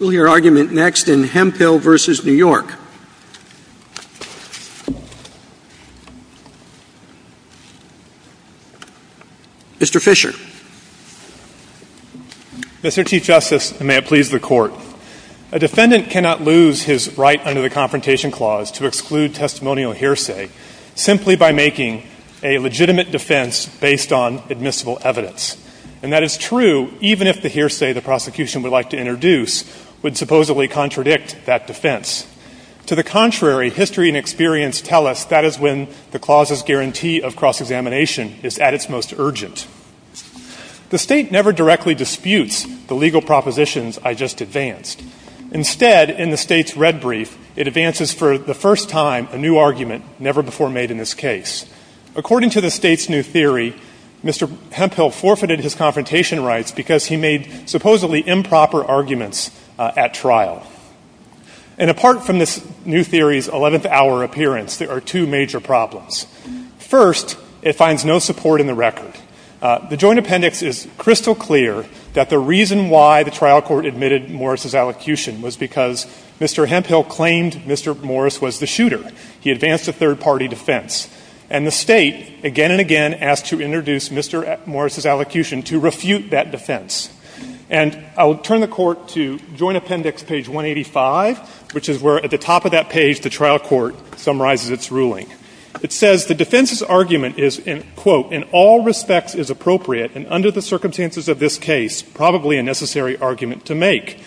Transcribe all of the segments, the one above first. Mr. T. Justice, and may it please the Court, a defendant cannot lose his right under the Confrontation Clause to exclude testimonial hearsay simply by making a legitimate defense based on admissible evidence. And that is true even if the hearsay the prosecution would like to introduce would supposedly contradict that defense. To the contrary, history and experience tell us that is when the clause's guarantee of cross-examination is at its most urgent. The State never directly disputes the legal propositions I just advanced. Instead, in the State's red brief, it advances for the first time a new argument never before made in this case. According to the State's new theory, Mr. Hemphill forfeited his confrontation rights because he made supposedly improper arguments at trial. And apart from this new theory's 11th hour appearance, there are two major problems. First, it finds no support in the record. The Joint Appendix is crystal clear that the reason why the trial court admitted Morris's allocution was because Mr. Hemphill claimed Mr. Morris was the shooter. He advanced a third-party defense. And the State again and again asked to introduce Mr. Morris's allocution to refute that defense. And I will turn the Court to Joint Appendix page 185, which is where at the top of that page the trial court summarizes its ruling. It says the defense's argument is, quote, in all respects is appropriate and under the circumstances of this case probably a necessary argument to make.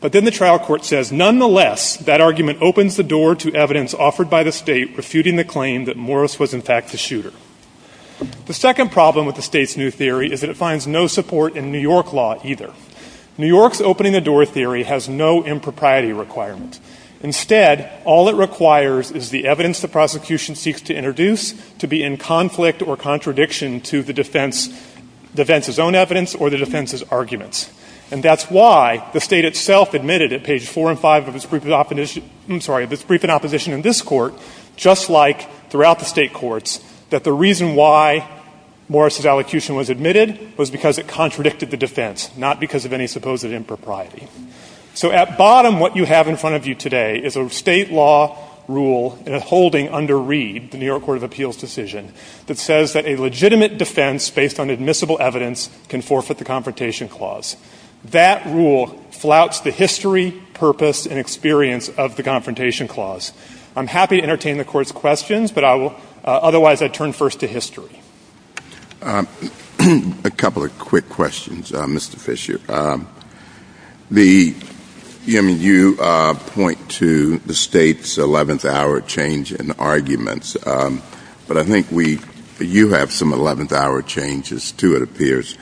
But then the trial court says, nonetheless, that argument opens the door to evidence offered by the State refuting the claim that Morris was, in fact, the shooter. The second problem with the State's new theory is that it finds no support in New York law either. New York's opening-the-door theory has no impropriety requirement. Instead, all it requires is the evidence the prosecution seeks to introduce to be in conflict with the defense. And that's why the State itself admitted at page 4 and 5 of its brief in opposition in this Court, just like throughout the State courts, that the reason why Morris's allocution was admitted was because it contradicted the defense, not because of any supposed impropriety. So at bottom what you have in front of you today is a State law rule in a holding under Reed, the New York Court of Appeals decision, that says that a legitimate defense based on admissible evidence can forfeit the Confrontation Clause. That rule flouts the history, purpose, and experience of the Confrontation Clause. I'm happy to entertain the Court's questions, but I will-otherwise, I turn first to history. A couple of quick questions, Mr. Fisher. The-I mean, you point to the State's eleventh-hour change in arguments, but I think we-you have some eleventh-hour changes, too, it appears.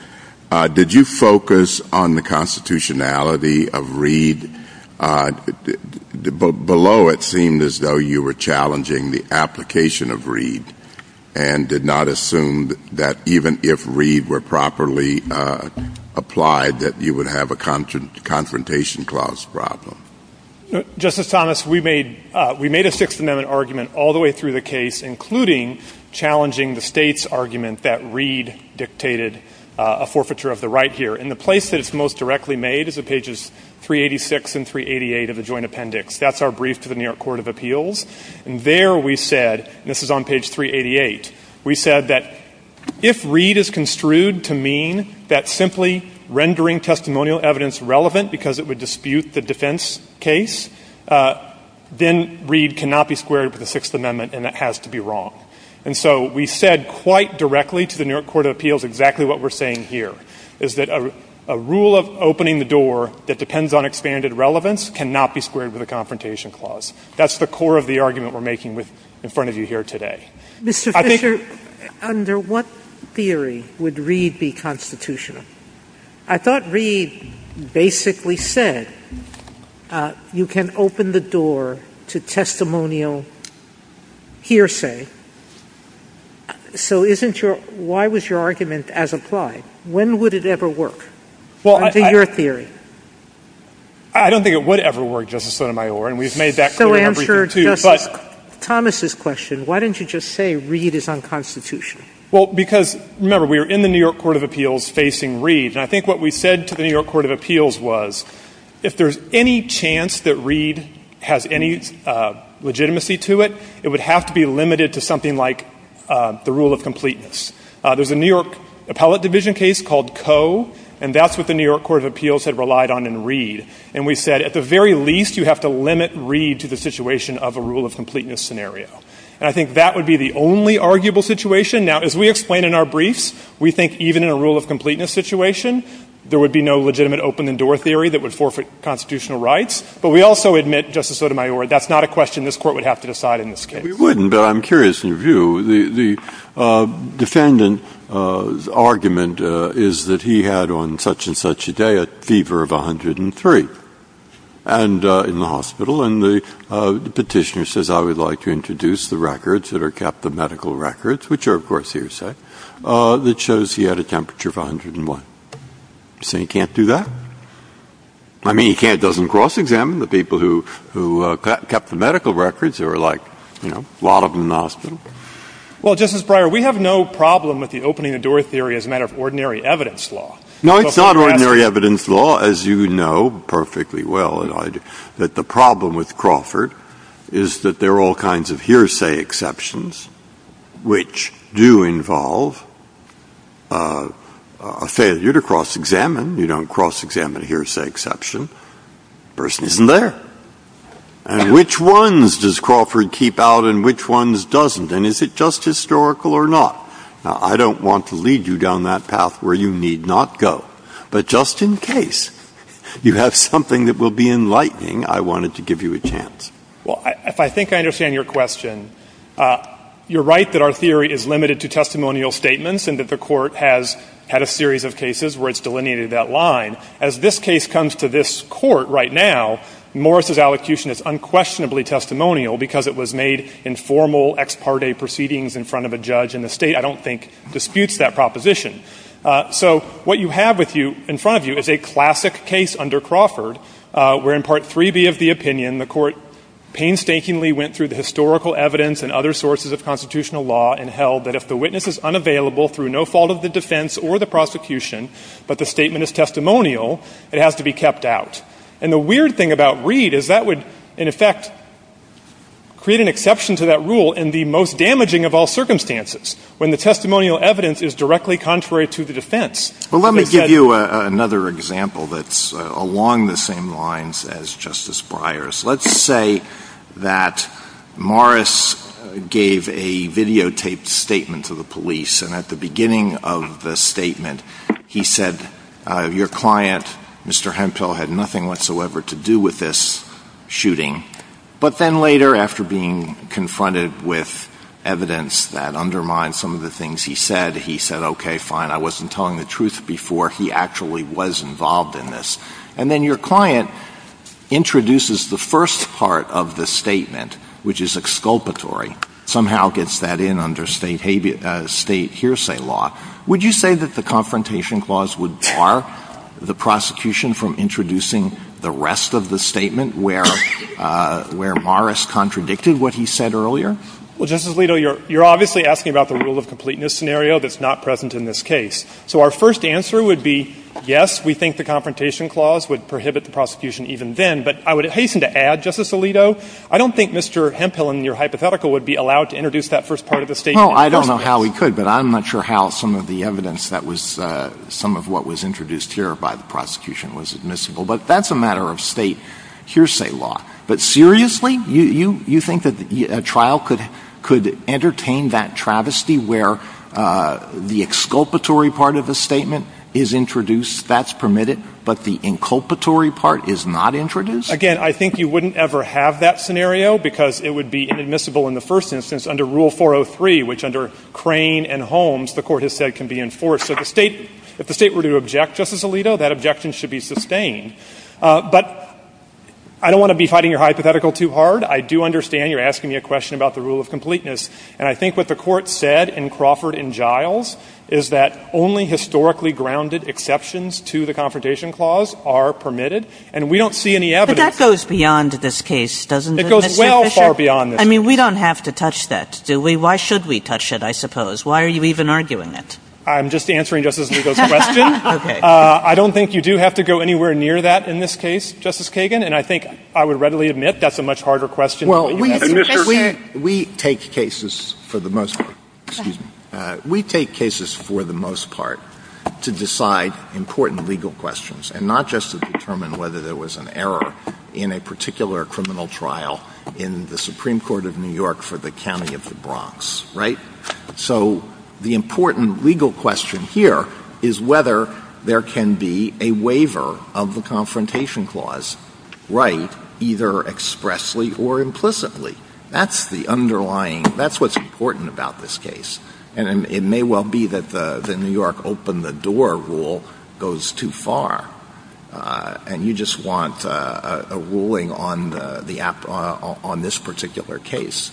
Did you focus on the constitutionality of Reed? Below it seemed as though you were challenging the application of Reed and did not assume that even if Reed were properly applied, that you would have a Confrontation Clause problem. Justice Thomas, we made-we made a Sixth Amendment argument all the way through the case, including challenging the State's argument that Reed dictated a forfeiture of the right here. And the place that it's most directly made is in pages 386 and 388 of the Joint Appendix. That's our brief to the New York Court of Appeals. And there we said-this is on page 388-we said that if Reed is construed to mean that simply rendering testimonial evidence relevant because it would dispute the defense case, then Reed cannot be squared with the Sixth Amendment and it has to be wrong. And so we said quite directly to the New York Court of Appeals exactly what we're saying here, is that a rule of opening the door that depends on expanded relevance cannot be squared with a Confrontation Clause. That's the core of the argument we're making with-in front of you here today. I think- Mr. Fisher, under what theory would Reed be constitutional? I thought Reed basically said you can open the door to testimonial hearsay. So isn't your-why was your argument as applied? When would it ever work? Well, I- Under your theory. I don't think it would ever work, Justice Sotomayor, and we've made that clear in everything too, but- So answer Thomas's question. Why didn't you just say Reed is unconstitutional? Well, because-remember, we were in the New York Court of Appeals facing Reed, and I think what we said to the New York Court of Appeals was if there's any chance that Reed has any legitimacy to it, it would have to be limited to something like the rule of completeness. There's a New York Appellate Division case called Coe, and that's what the New York Court of Appeals had relied on in Reed. And we said at the very least, you have to limit Reed to the situation of a rule of completeness scenario. And I think that would be the only arguable situation. Now, as we explain in our briefs, we think even in a rule of completeness situation, there would be no legitimate open-the-door theory that would forfeit constitutional rights. But we also admit, Justice Sotomayor, that's not a question this Court would have to decide in this case. We wouldn't, but I'm curious in your view. The defendant's argument is that he had on such-and-such a day a fever of 103 in the morning. And the Petitioner says, I would like to introduce the records that are kept, the medical records, which are of course here set, that shows he had a temperature of 101. So he can't do that? I mean, he can't. It doesn't cross-examine the people who kept the medical records or like, you know, a lot of them in Austin. Well, Justice Breyer, we have no problem with the opening-the-door theory as a matter of ordinary evidence law. No, it's not ordinary evidence law, as you know perfectly well that the problem with Crawford is that there are all kinds of hearsay exceptions, which do involve a failure to cross-examine. You don't cross-examine a hearsay exception, the person isn't there. And which ones does Crawford keep out and which ones doesn't, and is it just historical or not? Now, I don't want to lead you down that path where you need not go, but just in case you have something that will be enlightening, I wanted to give you a chance. Well, I think I understand your question. You're right that our theory is limited to testimonial statements and that the court has had a series of cases where it's delineated that line. As this case comes to this court right now, Morris' allocution is unquestionably testimonial because it was made in formal ex parte proceedings in front of a judge in the state I don't think disputes that proposition. So what you have with you in front of you is a classic case under Crawford where in Part 3B of the opinion, the court painstakingly went through the historical evidence and other sources of constitutional law and held that if the witness is unavailable through no fault of the defense or the prosecution, but the statement is testimonial, it has to be kept out. And the weird thing about Reed is that would, in effect, create an exception to that rule in the most damaging of all circumstances, when the testimonial evidence is directly contrary to the defense. Well, let me give you another example that's along the same lines as Justice Breyer's. Let's say that Morris gave a videotaped statement to the police and at the beginning of the statement, he said, your client, Mr. Hempel, had nothing whatsoever to do with this shooting. But then later, after being confronted with evidence that undermined some of the things he said, he said, okay, fine, I wasn't telling the truth before, he actually was involved in this. And then your client introduces the first part of the statement, which is exculpatory, somehow gets that in under state hearsay law. Would you say that the Confrontation Clause would bar the prosecution from introducing the rest of the statement where Morris contradicted what he said earlier? Well, Justice Alito, you're obviously asking about the rule of completeness scenario that's not present in this case. So our first answer would be, yes, we think the Confrontation Clause would prohibit the prosecution even then. But I would hasten to add, Justice Alito, I don't think Mr. Hempel in your hypothetical would be allowed to introduce that first part of the statement. No, I don't know how he could, but I'm not sure how some of the evidence that was, some of what was introduced here by the prosecution was admissible. But that's a matter of state hearsay law. But seriously, you think that a trial could entertain that travesty where the exculpatory part of the statement is introduced, that's permitted, but the inculpatory part is not introduced? Again, I think you wouldn't ever have that scenario because it would be inadmissible in the first instance under Rule 403, which under Crane and Holmes, the court has said can be enforced. So if the state were to object, Justice Alito, that objection should be sustained. But I don't want to be fighting your hypothetical too hard. I do understand you're asking me a question about the rule of completeness. And I think what the court said in Crawford and Giles is that only historically grounded exceptions to the Confrontation Clause are permitted. And we don't see any evidence. But that goes beyond this case, doesn't it, Mr. Fisher? It goes well far beyond this case. I mean, we don't have to touch that, do we? Why should we touch it, I suppose? Why are you even arguing it? I'm just answering Justice Alito's question. I don't think you do have to go anywhere near that in this case, Justice Kagan. And I think I would readily admit that's a much harder question. We take cases for the most part, excuse me. We take cases for the most part to decide important legal questions and not just to determine whether there was an error in a particular criminal trial in the Supreme Court of New York for the county of the Bronx, right? So the important legal question here is whether there can be a waiver of the Confrontation Clause, right, either expressly or implicitly. That's the underlying, that's what's important about this case. And it may well be that the New York open the door rule goes too far. And you just want a ruling on this particular case.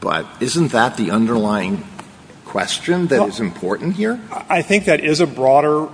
But isn't that the underlying question that is important here? I think that is a broader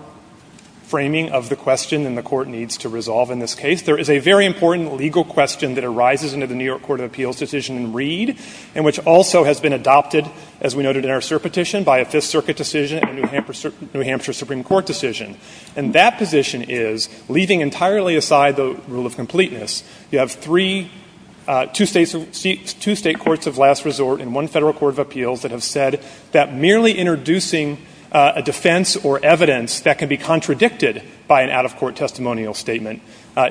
framing of the question and the court needs to resolve in this case. There is a very important legal question that arises into the New York Court of Appeals decision in Reed. And which also has been adopted, as we noted in our cert petition, by a Fifth Circuit decision and a New Hampshire Supreme Court decision. And that position is, leaving entirely aside the rule of completeness, you have two state courts of last resort and one federal court of appeals that have said that merely introducing a defense or evidence that can be contradicted by an out of court testimonial statement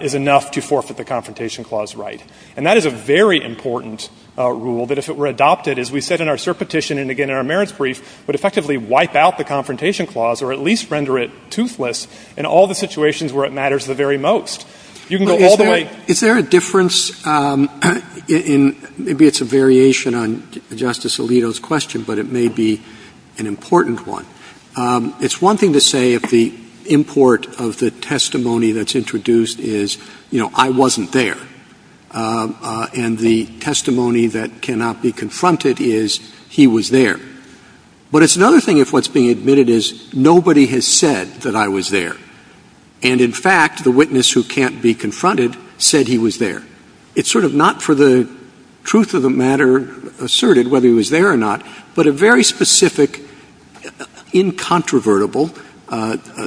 is enough to forfeit the Confrontation Clause right. And that is a very important rule that if it were adopted, as we said in our cert petition and again in our merits brief, would effectively wipe out the Confrontation Clause or at least render it toothless in all the situations where it matters the very most. You can go all the way. Is there a difference in, maybe it's a variation on Justice Alito's question, but it may be an important one. It's one thing to say if the import of the testimony that's introduced is, you know, I wasn't there, and the testimony that cannot be confronted is, he was there. But it's another thing if what's being admitted is, nobody has said that I was there. And in fact, the witness who can't be confronted said he was there. It's sort of not for the truth of the matter asserted whether he was there or not, but a very specific incontrovertible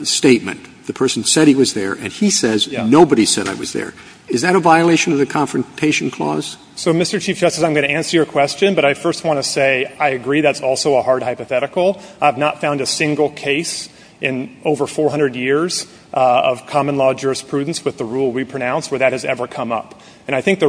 statement. The person said he was there, and he says nobody said I was there. Is that a violation of the Confrontation Clause? So Mr. Chief Justice, I'm going to answer your question, but I first want to say I agree that's also a hard hypothetical. I've not found a single case in over 400 years of common law jurisprudence with the rule we pronounce where that has ever come up. And I think the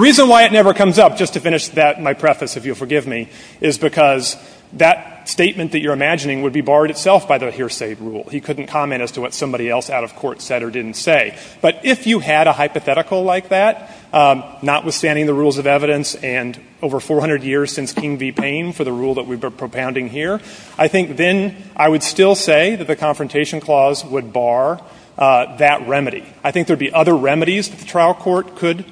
reason why it never comes up, just to finish my preface if you'll forgive me, is because that statement that you're imagining would be barred itself by the hearsay rule. He couldn't comment as to what somebody else out of court said or didn't say. But if you had a hypothetical like that, notwithstanding the rules of evidence, and over 400 years since King v. Payne for the rule that we've been propounding here, I think then I would still say that the Confrontation Clause would bar that remedy. I think there'd be other remedies the trial court could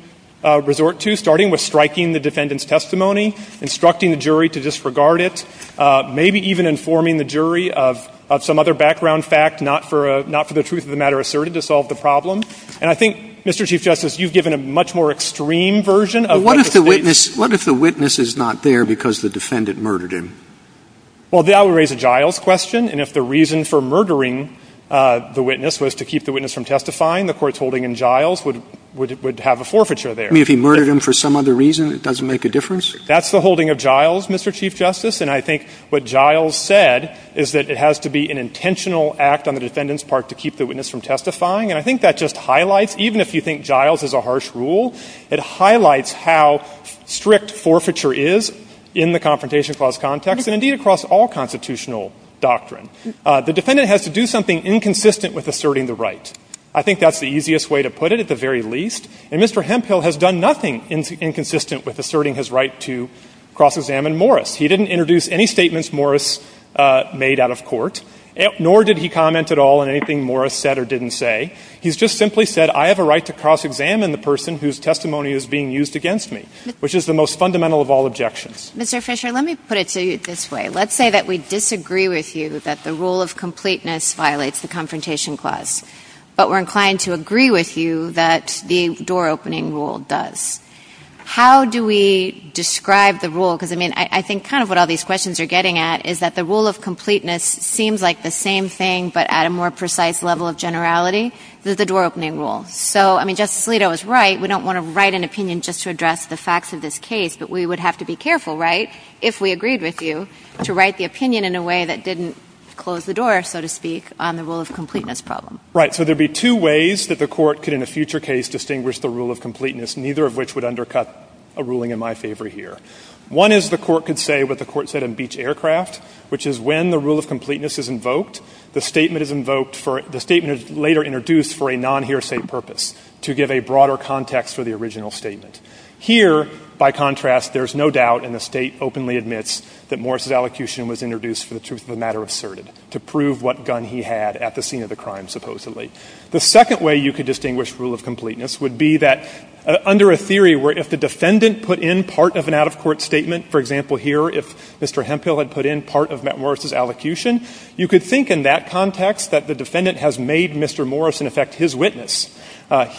resort to, starting with striking the defendant's testimony, instructing the jury to disregard it, maybe even informing the jury of some other background fact, not for the truth of the matter asserted, to solve the problem. And I think, Mr. Chief Justice, you've given a much more extreme version of- But what if the witness is not there because the defendant murdered him? Well, that would raise a Giles question. And if the reason for murdering the witness was to keep the witness from testifying, the court's holding in Giles would have a forfeiture there. I mean, if he murdered him for some other reason, it doesn't make a difference? That's the holding of Giles, Mr. Chief Justice. And I think what Giles said is that it has to be an intentional act on the defendant's part to keep the witness from testifying. And I think that just highlights, even if you think Giles is a harsh rule, it highlights how strict forfeiture is in the Confrontation Clause context and, indeed, across all constitutional doctrine. The defendant has to do something inconsistent with asserting the right. I think that's the easiest way to put it, at the very least. And Mr. Hemphill has done nothing inconsistent with asserting his right to cross-examine Morris. He didn't introduce any statements Morris made out of court, nor did he comment at all on anything Morris said or didn't say. He's just simply said, I have a right to cross-examine the person whose testimony is being used against me, which is the most fundamental of all objections. Mr. Fisher, let me put it to you this way. Let's say that we disagree with you that the rule of completeness violates the Confrontation Clause, but we're inclined to agree with you that the door-opening rule does. How do we describe the rule? Because, I mean, I think kind of what all these questions are getting at is that the rule of completeness seems like the same thing, but at a more precise level of generality. There's a door-opening rule. So, I mean, Justice Alito is right. We don't want to write an opinion just to address the facts of this case, but we would have to be careful, right, if we agreed with you, to write the opinion in a way that didn't close the door, so to speak, on the rule of completeness problem. Right. So there'd be two ways that the court could, in a future case, distinguish the rule of completeness, neither of which would undercut a ruling in my favor here. One is the court could say what the court said in Beach Aircraft, which is when the rule of completeness is invoked, the statement is invoked for — the statement is later introduced for a non-hearsay purpose, to give a broader context for the original statement. Here, by contrast, there's no doubt, and the State openly admits, that Morris' allocution was introduced for the truth of the matter asserted, to prove what gun he had at the scene of the crime, supposedly. The second way you could distinguish rule of completeness would be that under a theory where if the defendant put in part of an out-of-court statement, for example here, if Mr. Hemphill had put in part of Matt Morris' allocution, you could think in that context that the defendant has made Mr. Morris, in effect, his witness.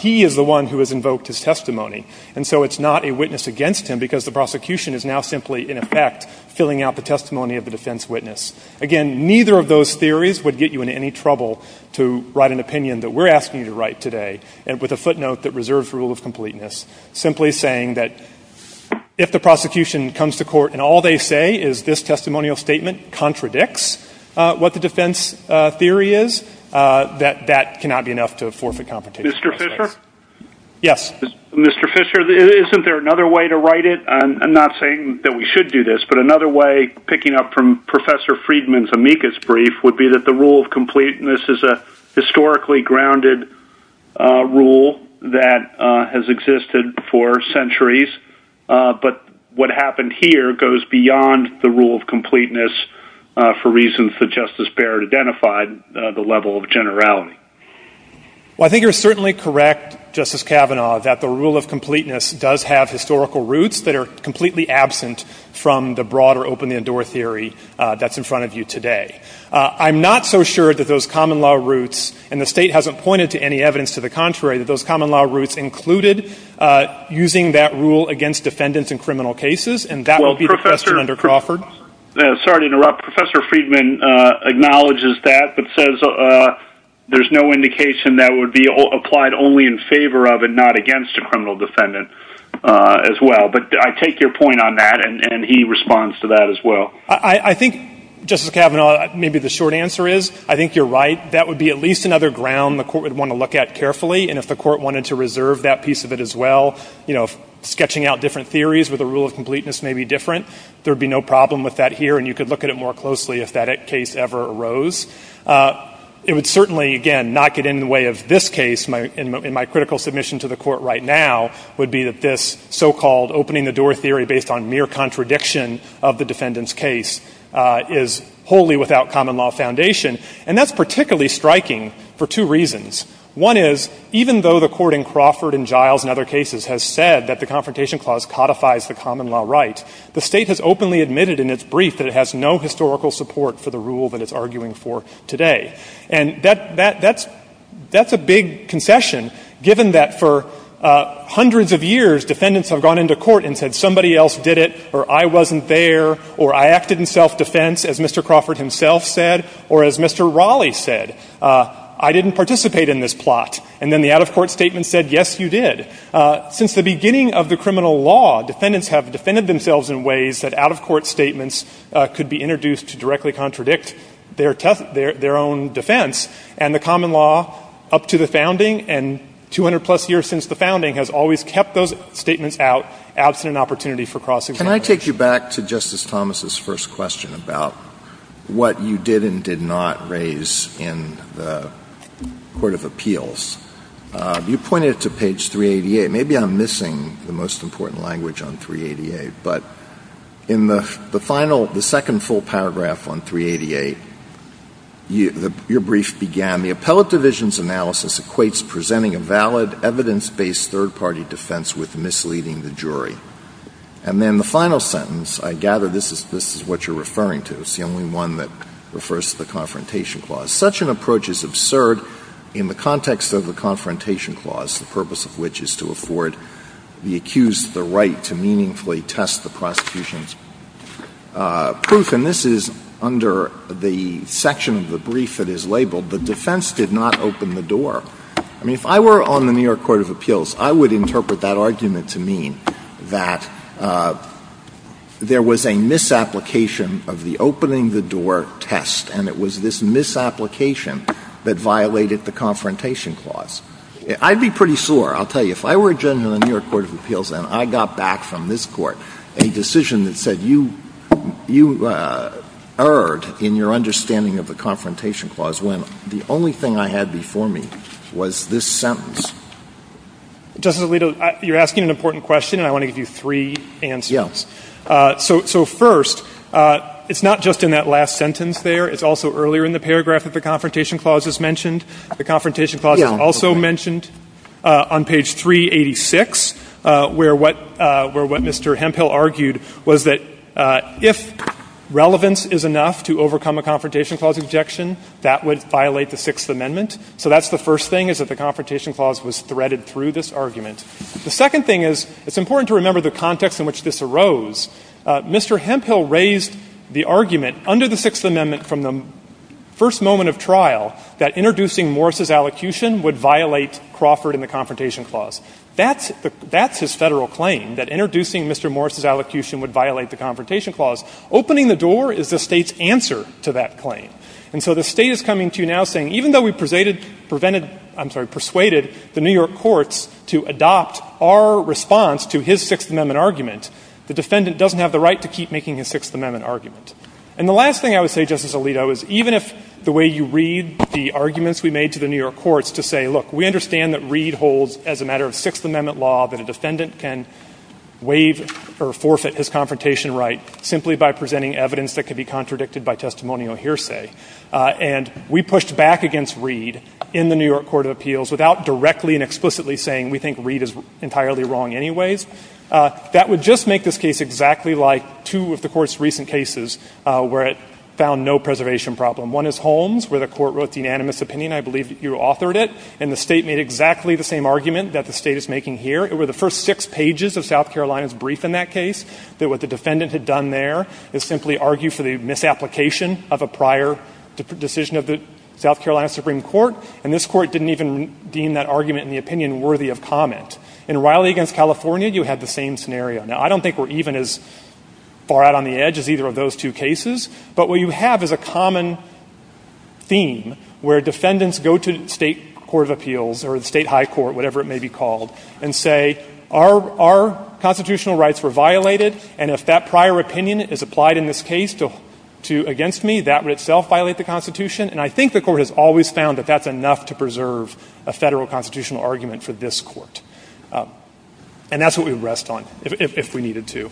He is the one who has invoked his testimony, and so it's not a witness against him, because the prosecution is now simply, in effect, filling out the testimony of the defense witness. Again, neither of those theories would get you in any trouble to write an opinion that we're asking you to write today, and with a footnote that reserves rule of completeness. Simply saying that if the prosecution comes to court, and all they say is this testimonial statement contradicts what the defense theory is, that that cannot be enough to forfeit competition. Mr. Fisher? Yes. Mr. Fisher, isn't there another way to write it? I'm not saying that we should do this, but another way, picking up from Professor Friedman's amicus brief, would be that the rule of completeness is a rule that has existed for centuries, but what happened here goes beyond the rule of completeness for reasons that Justice Barrett identified, the level of generality. Well, I think you're certainly correct, Justice Kavanaugh, that the rule of completeness does have historical roots that are completely absent from the broader open-the-door theory that's in front of you today. I'm not so sure that those common law roots, and the state hasn't pointed to any evidence to the contrary, that those common law roots included using that rule against defendants in criminal cases, and that will be the case under Crawford. Sorry to interrupt. Professor Friedman acknowledges that, but says there's no indication that would be applied only in favor of and not against a criminal defendant as well. But I take your point on that, and he responds to that as well. I think, Justice Kavanaugh, maybe the short answer is I think you're right. That would be at least another ground the court would want to look at carefully, and if the court wanted to reserve that piece of it as well, you know, sketching out different theories with a rule of completeness may be different. There would be no problem with that here, and you could look at it more closely if that case ever arose. It would certainly, again, not get in the way of this case, and my critical submission to the court right now would be that this so-called opening-the-door theory based on mere contradiction of the defendant's case is wholly without common law foundation. And that's particularly striking for two reasons. One is, even though the court in Crawford and Giles and other cases has said that the Confrontation Clause codifies the common law rights, the State has openly admitted in its brief that it has no historical support for the rule that it's arguing for today. And that's a big concession, given that for hundreds of years, defendants have gone into court and said somebody else did it, or I wasn't there, or I acted in self-defense, as Mr. Crawford himself said, or as Mr. Raleigh said. I didn't participate in this plot. And then the out-of-court statement said, yes, you did. Since the beginning of the criminal law, defendants have defended themselves in ways that out-of-court statements could be introduced to directly contradict their own defense. And the common law, up to the founding and 200-plus years since the founding has always kept those statements out, absent an opportunity for cross-examination. Can I take you back to Justice Thomas's first question about what you did and did not raise in the Court of Appeals? You pointed to page 388. Maybe I'm missing the most important language on 388. But in the final, the second full paragraph on 388, your brief began, the appellate division's analysis equates presenting a valid, evidence-based third-party defense with misleading the jury. And then the final sentence, I gather this is what you're referring to. It's the only one that refers to the Confrontation Clause. Such an approach is absurd in the context of the Confrontation Clause, the purpose of which is to afford the accused the right to meaningfully test the prosecution's proof. And this is under the section of the brief that is labeled, the defense did not open the door. I mean, if I were on the New York Court of Appeals, I would interpret that argument to mean that there was a misapplication of the opening the door test. And it was this misapplication that violated the Confrontation Clause. I'd be pretty sore, I'll tell you. If I were a judge on the New York Court of Appeals and I got back from this court a decision that said you erred in your understanding of the Confrontation Clause when the only thing I had before me was this sentence. Justice Alito, you're asking an important question and I want to give you three answers. So first, it's not just in that last sentence there, it's also earlier in the paragraph that the Confrontation Clause is mentioned. The Confrontation Clause is also mentioned on page 386 where what Mr. Hemphill argued was that if relevance is enough to overcome a Confrontation Clause objection, that would violate the Sixth Amendment. So that's the first thing is that the Confrontation Clause was threaded through this argument. The second thing is, it's important to remember the context in which this arose. Mr. Hemphill raised the argument under the Sixth Amendment from the first moment of trial that introducing Morris' allocution would violate Crawford and the Confrontation Clause. That's his federal claim, that introducing Mr. Morris' allocution would violate the Confrontation Clause. Opening the door is the state's answer to that claim. And so the state is coming to now saying, even though we persuaded the New York courts to adopt our response to his Sixth Amendment argument, the defendant doesn't have the right to keep making his Sixth Amendment argument. And the last thing I would say, Justice Alito, is even if the way you read the arguments we made to the New York courts to say, look, we understand that Reed holds as a matter of Sixth Amendment law that a defendant can waive or forfeit his confrontation right simply by presenting evidence that could be contradicted by testimonial hearsay. And we pushed back against Reed in the New York Court of Appeals without directly and explicitly saying we think Reed is entirely wrong anyways. That would just make this case exactly like two of the court's recent cases where it found no preservation problem. One is Holmes, where the court wrote the unanimous opinion. I believe you authored it. And the state made exactly the same argument that the state is making here. It were the first six pages of South Carolina's brief in that case that what the defendant had done there is simply argue for the misapplication of a prior decision of the South Carolina Supreme Court. And this court didn't even deem that argument in the opinion worthy of comment. In Riley v. California, you had the same scenario. Now, I don't think we're even as far out on the edge as either of those two cases. But what you have is a common theme where defendants go to the state court of appeals or the state high court, whatever it may be called, and say our constitutional rights were violated. And if that prior opinion is applied in this case against me, that would itself violate the Constitution. And I think the court has always found that that's enough to preserve a federal constitutional argument for this court. And that's what we would rest on if we needed to.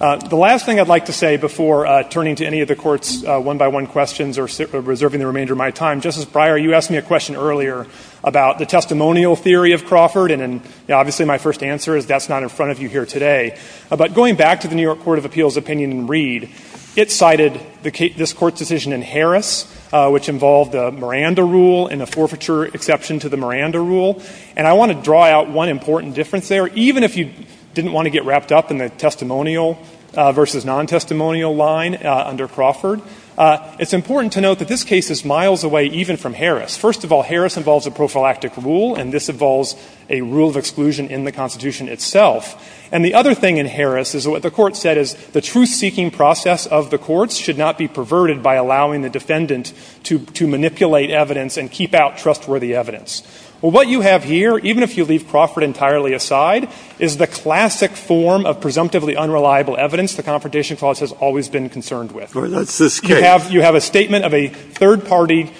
The last thing I'd like to say before turning to any of the court's one-by-one questions or reserving the remainder of my time, Justice Breyer, you asked me a question earlier about the testimonial theory of Crawford. And obviously, my first answer is that's not in front of you here today. But going back to the New York Court of Appeals' opinion in Reed, it cited this court's decision in Harris, which involved the Miranda rule and the forfeiture exception to the Miranda rule. And I want to draw out one important difference there. Even if you didn't want to get wrapped up in the testimonial versus non-testimonial line under Crawford, it's important to note that this case is miles away even from Harris. First of all, Harris involves a prophylactic rule, and this involves a rule of exclusion in the Constitution itself. And the other thing in Harris is what the court said is the truth-seeking process of the courts should not be perverted by allowing the defendant to manipulate evidence and keep out trustworthy evidence. Well, what you have here, even if you leave Crawford entirely aside, is the classic form of presumptively unreliable evidence the Confrontation Clause has always been concerned with. You have a statement of a third party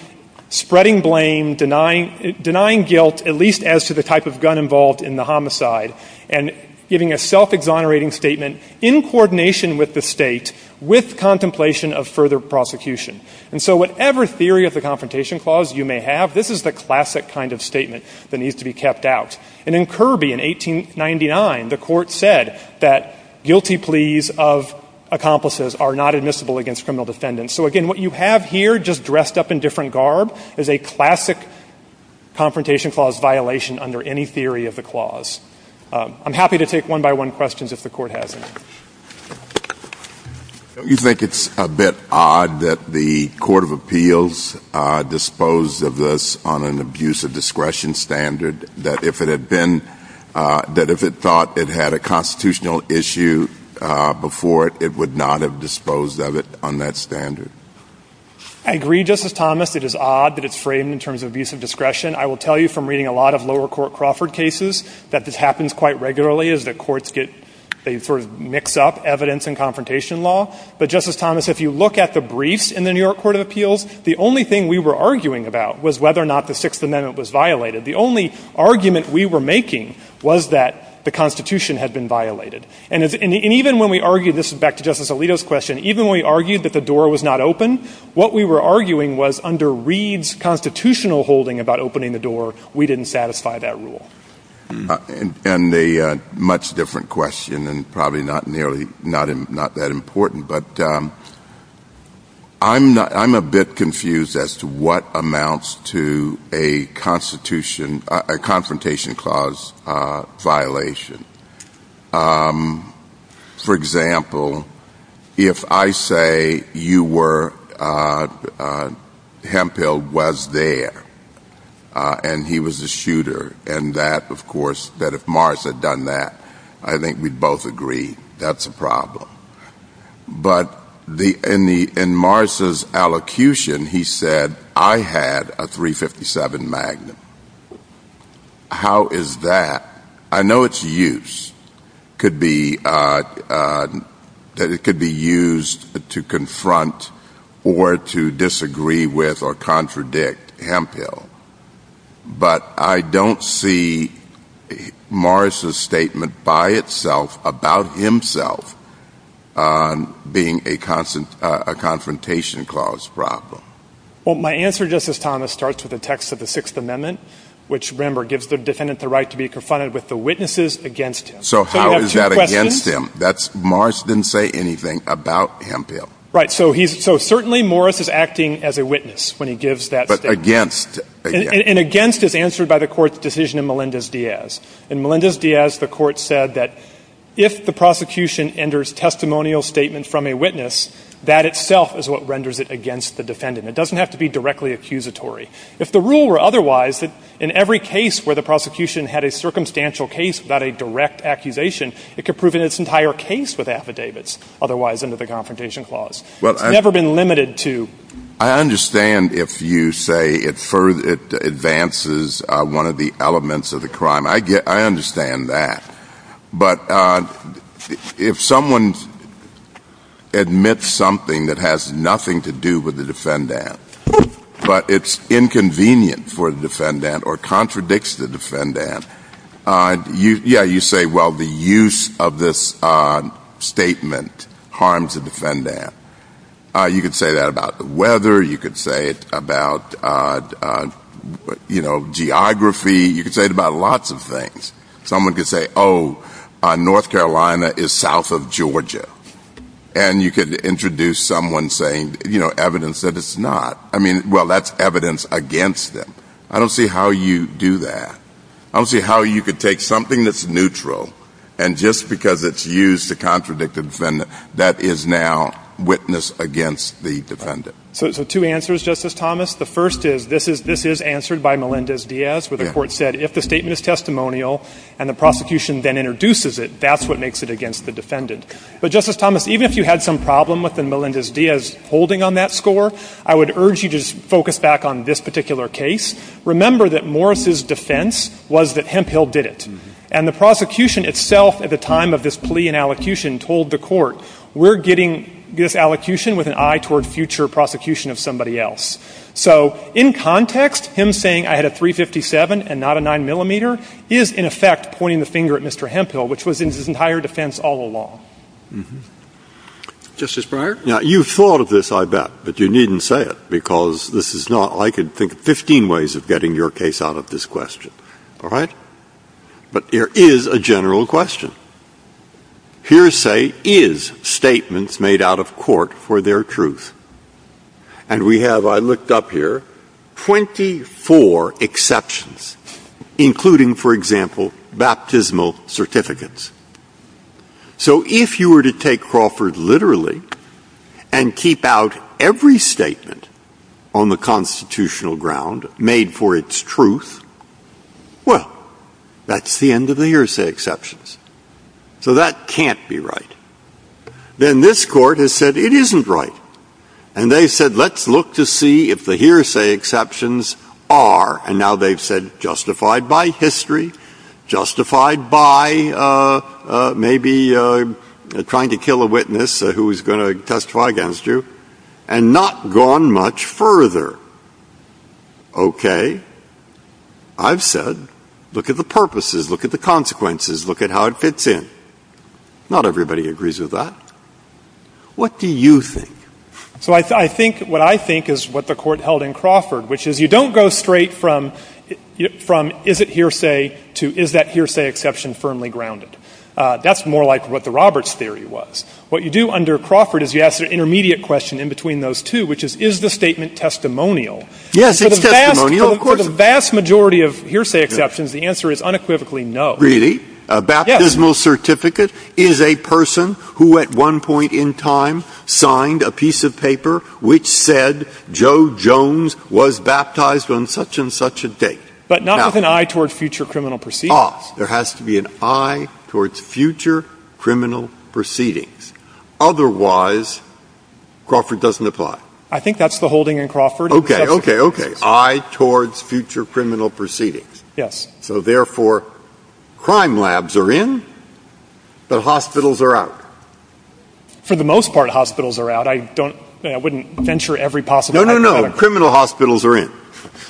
spreading blame, denying guilt, at least as to the type of gun involved in the homicide, and giving a self-exonerating statement in coordination with the state with contemplation of further prosecution. And so whatever theory of the Confrontation Clause you may have, this is the classic kind of statement that needs to be kept out. And in Kirby in 1899, the court said that guilty pleas of accomplices are not admissible against criminal defendants. So again, what you have here just dressed up in different garb is a classic Confrontation Clause violation under any theory of the clause. I'm happy to take one-by-one questions if the court has any. Don't you think it's a bit odd that the Court of Appeals disposed of this on an abuse of discretion standard, that if it had been, that if it thought it had a constitutional issue before it, it would not have disposed of it on that standard? I agree, Justice Thomas, it is odd that it's framed in terms of abuse of discretion. I will tell you from reading a lot of lower court Crawford cases that this happens quite regularly as the courts get, they sort of mix up evidence and confrontation law. But Justice Thomas, if you look at the briefs in the New York Court of Appeals, the only thing we were arguing about was whether or not the Sixth Amendment was violated. The only argument we were making was that the Constitution had been violated. And even when we argue, this is back to Justice Alito's question, even when we argued that the door was not open, what we were arguing was under Reed's constitutional holding about opening the door, we didn't satisfy that rule. And a much different question and probably not nearly, not that important, but I'm a bit confused as to what amounts to a Constitution, a confrontation clause violation. For example, if I say you were, Hemphill was there and he was a shooter and that, of course, that if Morris had done that, I think we'd both agree that's a problem. But in Morris' allocution, he said, I had a .357 Magnum. How is that? I know its use could be, that it could be used to confront or to disagree with or contradict Hemphill, but I don't see Morris' statement by itself about himself being a confrontation clause problem. Well, my answer, Justice Thomas, starts with the text of the Sixth Amendment, which remember gives the defendant the right to be confronted with the witnesses against him. So how is that against him? That's, Morris didn't say anything about Hemphill. Right. So he's, so certainly Morris is acting as a witness when he gives that statement. But against. And against is answered by the court's decision in Melendez-Diaz. In Melendez-Diaz, the court said that if the prosecution enters testimonial statements from a witness, that itself is what renders it against the defendant. It doesn't have to be directly accusatory. If the rule were otherwise, in every case where the prosecution had a circumstantial case without a direct accusation, it could prove in its entire case with affidavits, otherwise under the confrontation clause. It's never been limited to. I understand if you say it advances one of the elements of the crime. I get, I understand that. But if someone admits something that has nothing to do with the defendant, but it's inconvenient for the defendant or contradicts the defendant, yeah, you say, well, the use of this statement harms the defendant. You could say that about the weather. You could say it about, you know, geography. You could say it about lots of things. Someone could say, oh, North Carolina is south of Georgia. And you could introduce someone saying, you know, evidence that it's not. I mean, well, that's evidence against them. I don't see how you do that. I don't see how you could take something that's neutral and just because it's used to contradict the defendant, that is now witness against the defendant. So two answers, Justice Thomas. The first is this is answered by Melendez-Diaz where the court said if the statement is testimonial and the prosecution then introduces it, that's what makes it against the defendant. But Justice Thomas, even if you had some problem with the Melendez-Diaz holding on that score, I would urge you to focus back on this particular case. Remember that Morris' defense was that Hemphill did it. And the prosecution itself at the time of this plea and allocution told the court, we're getting this allocution with an eye toward future prosecution of somebody else. So in context, him saying I had a .357 and not a 9 millimeter is in effect pointing the finger at Mr. Hemphill, which was in his entire defense all along. Justice Breyer? Now, you thought of this, I bet, but you didn't say it because this is not, I can think of 15 ways of getting your case out of this question, all right? But there is a general question. Here say is statements made out of court for their truth. And we have, I looked up here, 24 exceptions including, for example, baptismal certificates. So if you were to take Crawford literally and keep out every statement on the constitutional ground made for its truth, well, that's the end of the hearsay exceptions. So that can't be right. Then this court has said it isn't right. And they said let's look to see if the hearsay exceptions are, and now they've said, justified by history, justified by maybe trying to kill a witness who was going to testify against you, and not gone much further. Okay. I've said, look at the purposes, look at the consequences, look at how it fits in. Not everybody agrees with that. What do you think? So I think, what I think is what the court held in Crawford, which is you don't go straight from is it hearsay to is that hearsay exception firmly grounded. That's more like what the Roberts theory was. What you do under Crawford is you ask an intermediate question in between those two, which is, is the statement testimonial? Yes, it's testimonial. For the vast majority of hearsay exceptions, the answer is unequivocally no. Really? A baptismal certificate is a person who at one point in time signed a piece of paper which said Joe Jones was baptized on such and such a date. But not with an eye towards future criminal proceedings. Ah, there has to be an eye towards future criminal proceedings. Otherwise, Crawford doesn't apply. I think that's the holding in Crawford. Okay, okay, okay. Eye towards future criminal proceedings. Yes. So therefore, crime labs are in, the hospitals are out. For the most part, hospitals are out. I don't, I wouldn't venture every possible. No, no, no, criminal hospitals are in.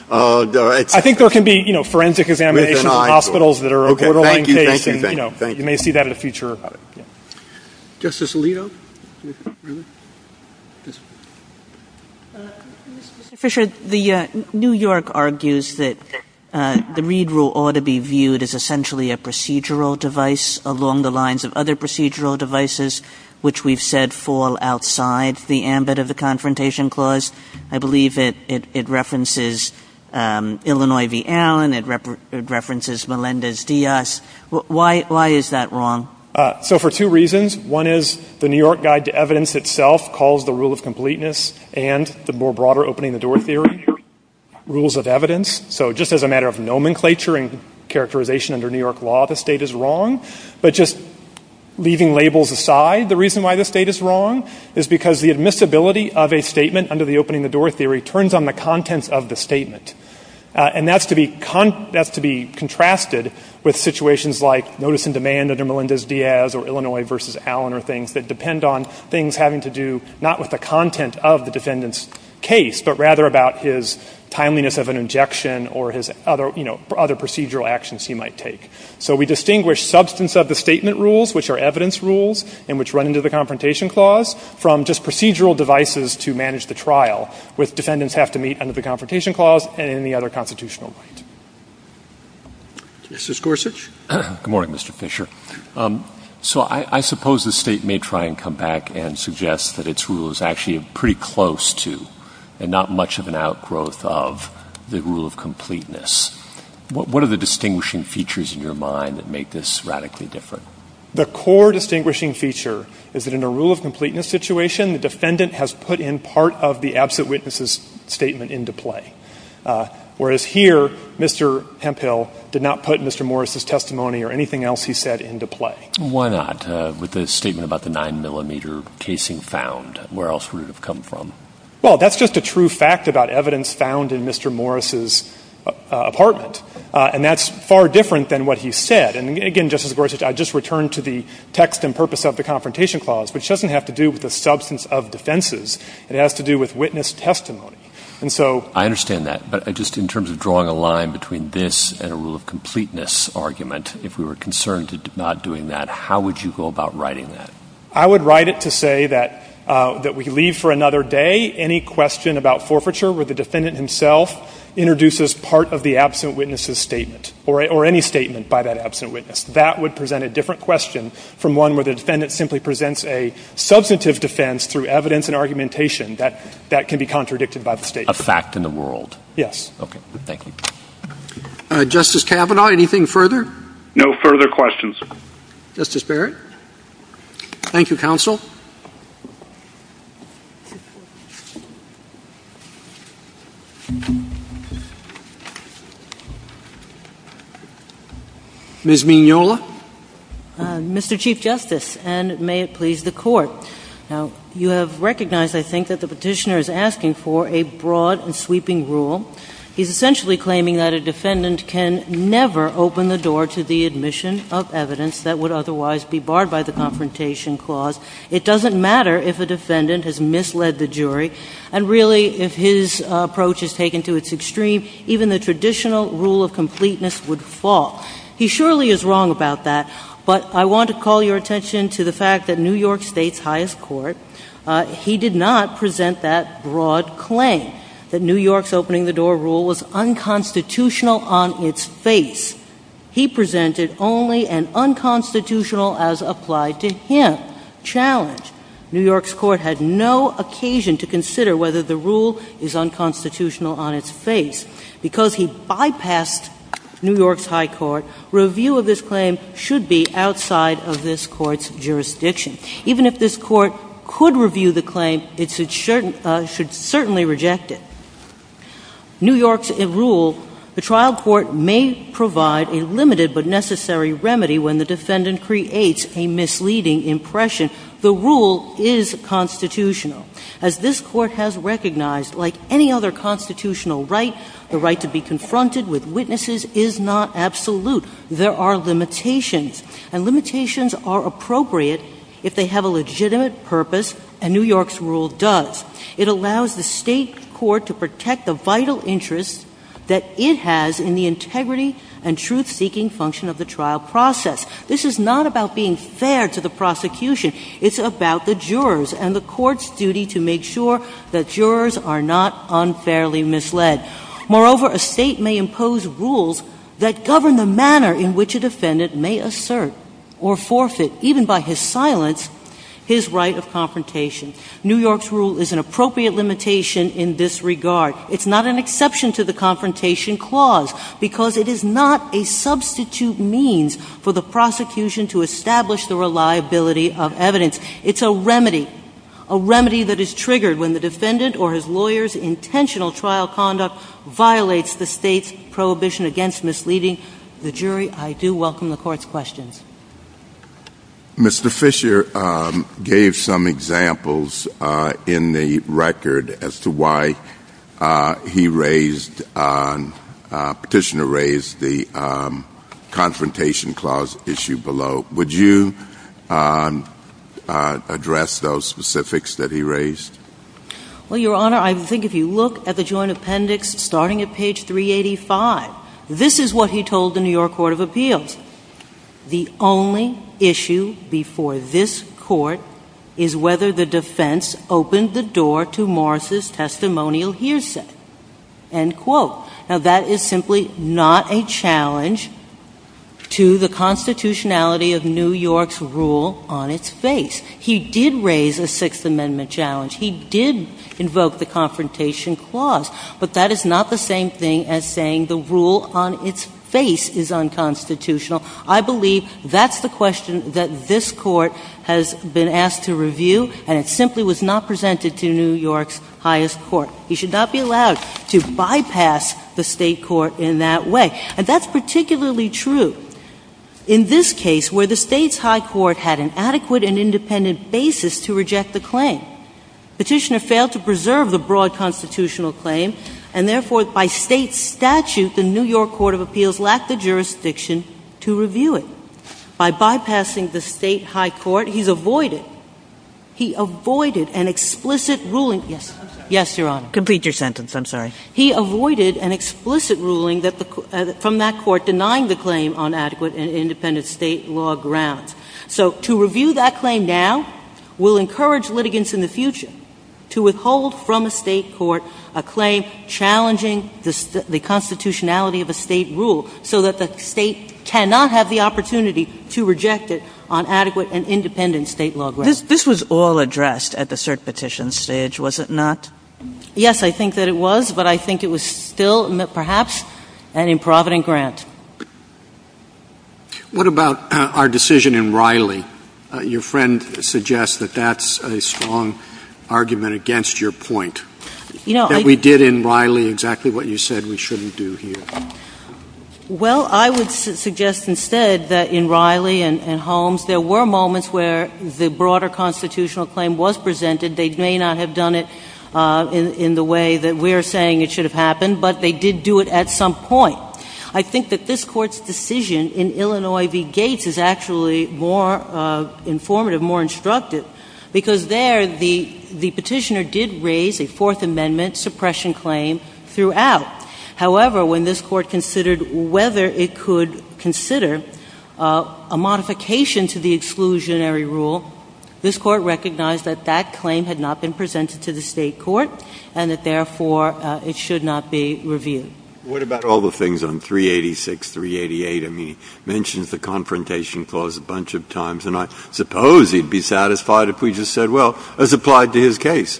I think there can be, you know, forensic examinations of hospitals that are a borderline case, and you know, you may see that in the future. Justice Alito? Mr. Fisher, the New York argues that the Reed rule ought to be viewed as essentially a procedural device along the lines of other procedural devices, which we've said fall outside the ambit of the Confrontation Clause. I believe it references Illinois v. Allen. It references Melendez-Diaz. Why is that wrong? So for two reasons. One is the New York Guide to Evidence itself calls the rule of completeness and the more broader Opening the Door Theory rules of evidence. So just as a matter of nomenclature and characterization under New York law, the state is wrong. But just leaving labels aside, the reason why the state is wrong is because the admissibility of a statement under the Opening the Door Theory turns on the content of the statement. And that's to be contrasted with situations like notice and demand under Melendez-Diaz or Illinois v. Allen or things that depend on things having to do not with the content of the defendant's case, but rather about his timeliness of an injection or his other, you know, other procedural actions he might take. So we distinguish substance of the statement rules, which are evidence rules and which run into the Confrontation Clause from just procedural devices to manage the trial with defendants have to meet under the Confrontation Clause and any other constitutional. Mrs. Gorsuch? Good morning, Mr. Fisher. So I suppose the state may try and come back and suggest that its rule is actually pretty close to and not much of an outgrowth of the rule of completeness. What are the distinguishing features in your mind that make this radically different? The core distinguishing feature is that in a rule of completeness situation, the defendant has put in part of the absent witness's statement into play. Whereas here, Mr. Pemphill did not put Mr. Morris' testimony or anything else he said into play. Why not? With the statement about the 9-millimeter casing found, where else would it have come from? Well, that's just a true fact about evidence found in Mr. Morris' apartment. And that's far different than what he said. And again, Justice Gorsuch, I just returned to the text and purpose of the Confrontation Clause, which doesn't have to do with the substance of defenses. It has to do with witness testimony. And so... I understand that. But just in terms of drawing a line between this and a rule of completeness argument, if we were concerned with not doing that, how would you go about writing that? I would write it to say that we leave for another day any question about forfeiture where the defendant himself introduces part of the absent witness's statement or any statement by that absent witness. That would present a different question from one where the defendant simply presents a substantive defense through evidence and argumentation that can be contradicted by the statement. A fact in the world. Yes. Okay. Thank you. Justice Kavanaugh, anything further? No further questions. Justice Barrett? Thank you, Counsel. Ms. Mignola? Mr. Chief Justice, and may it please the Court. Now, you have recognized, I think, that the petitioner is asking for a broad and sweeping rule. He's essentially claiming that a defendant can never open the door to the admission of evidence that would otherwise be barred by the Confrontation Clause. It doesn't matter if a defendant has misled the jury, and really, if his approach is taken to its extreme, even the traditional rule of completeness would fall. He surely is wrong about that, but I want to call your attention to the fact that New York State's highest court, he did not present that broad claim, that New York's opening the door rule was unconstitutional on its face. He presented only an unconstitutional, as applied to him, challenge. New York's court had no occasion to consider whether the rule is unconstitutional on its face. Because he bypassed New York's high court, review of this claim should be outside of this court's jurisdiction. Even if this court could review the claim, it should certainly reject it. New York's rule, the trial court may provide a limited but necessary remedy when the defendant creates a misleading impression. The rule is constitutional. As this court has recognized, like any other constitutional right, the right to be confronted with witnesses is not absolute. There are limitations, and limitations are appropriate if they have a legitimate purpose, and New York's rule does. It allows the state court to protect the vital interest that it has in the integrity and truth-seeking function of the trial process. This is not about being fair to the prosecution. It's about the jurors and the court's duty to make sure that jurors are not unfairly misled. Moreover, a state may impose rules that govern the manner in which a defendant may assert or forfeit, even by his silence, his right of confrontation. New York's rule is an appropriate limitation in this regard. It's not an exception to the confrontation clause, because it is not a substitute means for the prosecution to establish the reliability of evidence. It's a remedy, a remedy that is triggered when the defendant or his lawyer's intentional trial conduct violates the state's prohibition against misleading the jury. I do welcome the court's questions. Mr. Fisher gave some examples in the record as to why he raised, petitioner raised the confrontation clause issue below. Would you address those specifics that he raised? Well, Your Honor, I think if you look at the joint appendix starting at page 385, this is what he told the New York Court of Appeals. The only issue before this court is whether the defense opened the door to Morris' testimonial hearsay, end quote. Now, that is simply not a challenge to the constitutionality of New York's rule on its face. He did raise a Sixth Amendment challenge. He did invoke the confrontation clause, but that is not the same thing as saying the rule on its face is unconstitutional. I believe that's the question that this court has been asked to review, and it simply was not presented to New York's highest court. You should not be allowed to bypass the state court in that way. And that's particularly true in this case where the state's high court had an adequate and independent basis to reject the claim. Petitioner failed to preserve the broad constitutional claim, and therefore by state statute, the New York Court of Appeals lacked the jurisdiction to review it by bypassing the state high court. He's avoided, he avoided an explicit ruling. Yes, Your Honor. Complete your sentence. I'm sorry. He avoided an explicit ruling from that court denying the claim on adequate and independent state law grounds. So to review that claim now will encourage litigants in the future to withhold from the state court a claim challenging the constitutionality of a state rule so that the state cannot have the opportunity to reject it on adequate and independent state law grounds. This was all addressed at the cert petition stage, was it not? Yes, I think that it was, but I think it was still, perhaps, an improvident grant. What about our decision in Riley? Your friend suggests that that's a strong argument against your point. You know, we did in Riley exactly what you said we shouldn't do here. Well, I would suggest instead that in Riley and Holmes, there were moments where the broader constitutional claim was presented. They may not have done it in the way that we're saying it should have happened, but they did do it at some point. I think that this court's decision in Illinois v. Gates is actually more informative, more instructive, because there the petitioner did raise a Fourth Amendment suppression claim throughout, however, when this court considered whether it could consider a modification to the exclusionary rule, this court recognized that that claim had not been presented to the state court and that, therefore, it should not be reviewed. What about all the things on 386, 388? I mean, he mentions the Confrontation Clause a bunch of times, and I suppose he'd be satisfied if we just said, well, as applied to his case,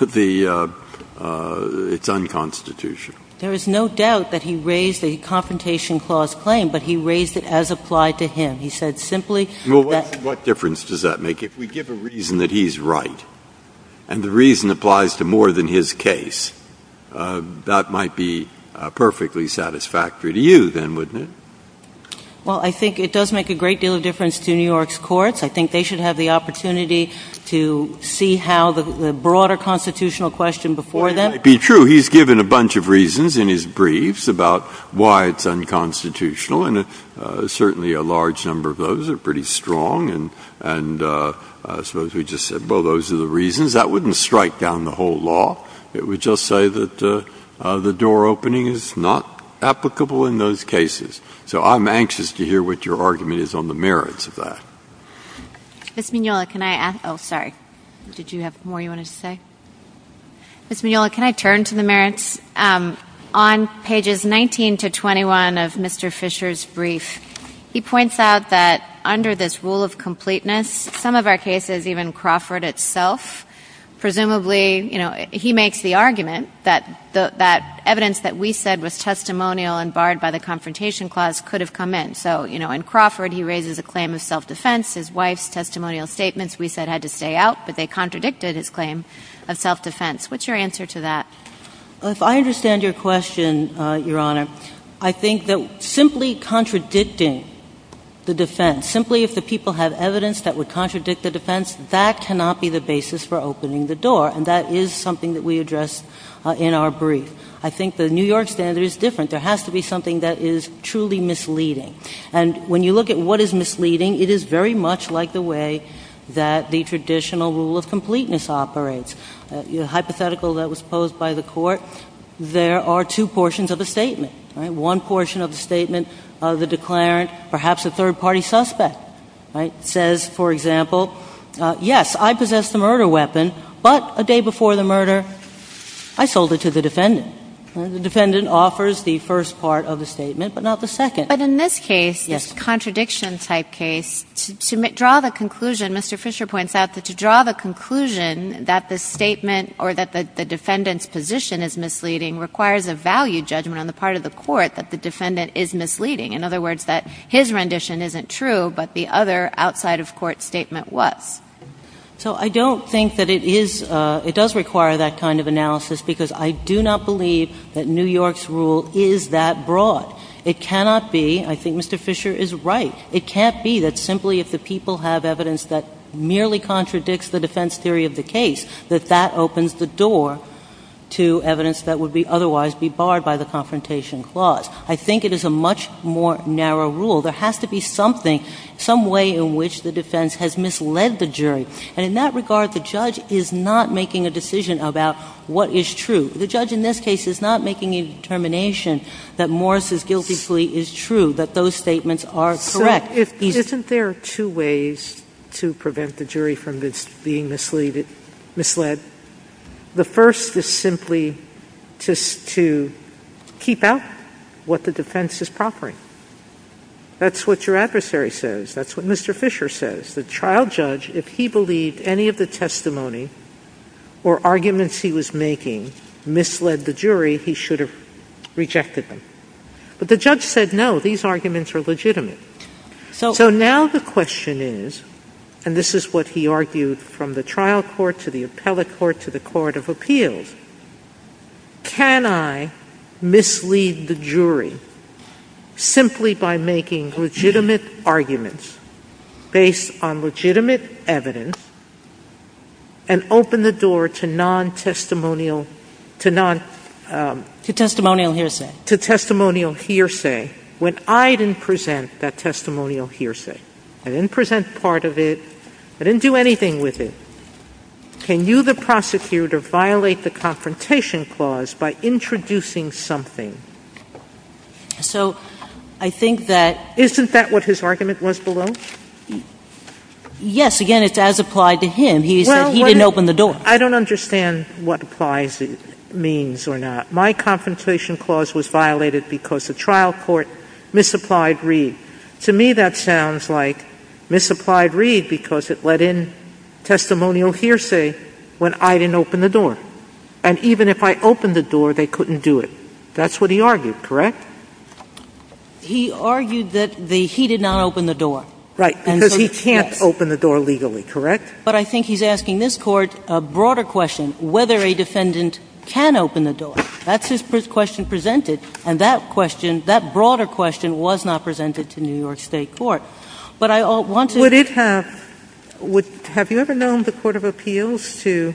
it's unconstitutional. There is no doubt that he raised the Confrontation Clause claim, but he raised it as applied to him. He said simply that... What difference does that make? If we give a reason that he's right and the reason applies to more than his case, that might be perfectly satisfactory to you, then, wouldn't it? Well, I think it does make a great deal of difference to New York's courts. I think they should have the opportunity to see how the broader constitutional question before them... It might be true. He's given a bunch of reasons in his briefs about why it's unconstitutional, and certainly a large number of those are pretty strong, and I suppose we just said, well, those are the reasons. That wouldn't strike down the whole law. It would just say that the door opening is not applicable in those cases. So, I'm anxious to hear what your argument is on the merits of that. Ms. Mignola, can I ask... Oh, sorry. Did you have more you wanted to say? Ms. Mignola, can I turn to the merits? On pages 19 to 21 of Mr. Fisher's brief, he points out that under this rule of completeness, some of our cases, even Crawford itself, presumably, you know, he makes the argument that evidence that we said was testimonial and barred by the Confrontation Clause could have come in. So, you know, in Crawford, he raises a claim of self-defense. His wife's testimonial statements, we said, had to stay out, but they contradicted his claim of self-defense. What's your answer to that? Well, if I understand your question, Your Honor, I think that simply contradicting the defense, simply if the people have evidence that would contradict the defense, that cannot be the basis for opening the door. And that is something that we address in our brief. I think the New York standard is different. There has to be something that is truly misleading. And when you look at what is misleading, it is very much like the way that the traditional rule of completeness operates. The hypothetical that was posed by the Court, there are two portions of the statement. One portion of the statement, the declarant, perhaps a third-party suspect, says, for example, yes, I possess the murder weapon, but a day before the murder, I sold it to the defendant. The defendant offers the first part of the statement, but not the second. But in this case, this contradiction-type case, to draw the conclusion, Mr. Fisher points out that to draw the conclusion that the statement or that the defendant's position is misleading requires a value judgment on the part of the Court that the defendant is misleading. In other words, that his rendition isn't true, but the other outside-of-court statement was. So I don't think that it is, it does require that kind of analysis, because I do not believe that New York's rule is that broad. It cannot be, I think Mr. Fisher is right, it can't be that simply if the people have evidence that merely contradicts the defense theory of the case, that that opens the door to evidence that would otherwise be barred by the Confrontation Clause. I think it is a much more narrow rule. There has to be something, some way in which the defense has misled the jury. And in that regard, the judge is not making a decision about what is true. The judge in this case is not making a determination that Morris's guilty plea is true, that those statements are correct. Isn't there two ways to prevent the jury from being misled? The first is simply just to keep out what the defense is proffering. That's what your adversary says, that's what Mr. Fisher says. The trial judge, if he believed any of the testimony or arguments he was making misled the jury, he should have rejected them. But the judge said no, these arguments are legitimate. So now the question is, and this is what he argued from the trial court to the appellate court, to the court of appeals, can I mislead the jury simply by making legitimate arguments based on legitimate evidence and open the door to non-testimonial, to non... To testimonial hearsay. To testimonial hearsay, when I didn't present that testimonial hearsay. I didn't present part of it, I didn't do anything with it. Can you, the prosecutor, violate the confrontation clause by introducing something? So I think that... Isn't that what his argument was below? Yes, again, it's as applied to him. He said he didn't open the door. I don't understand what applies, means or not. My confrontation clause was violated because the trial court misapplied Reed. To me, that sounds like misapplied Reed because it let in testimonial hearsay when I didn't open the door. And even if I opened the door, they couldn't do it. That's what he argued, correct? He argued that he did not open the door. Right, because he can't open the door legally, correct? But I think he's asking this court a broader question, whether a defendant can open the door. That's his question presented. And that question, that broader question, was not presented to New York State Court. But I want to... Would it have, would, have you ever known the Court of Appeals to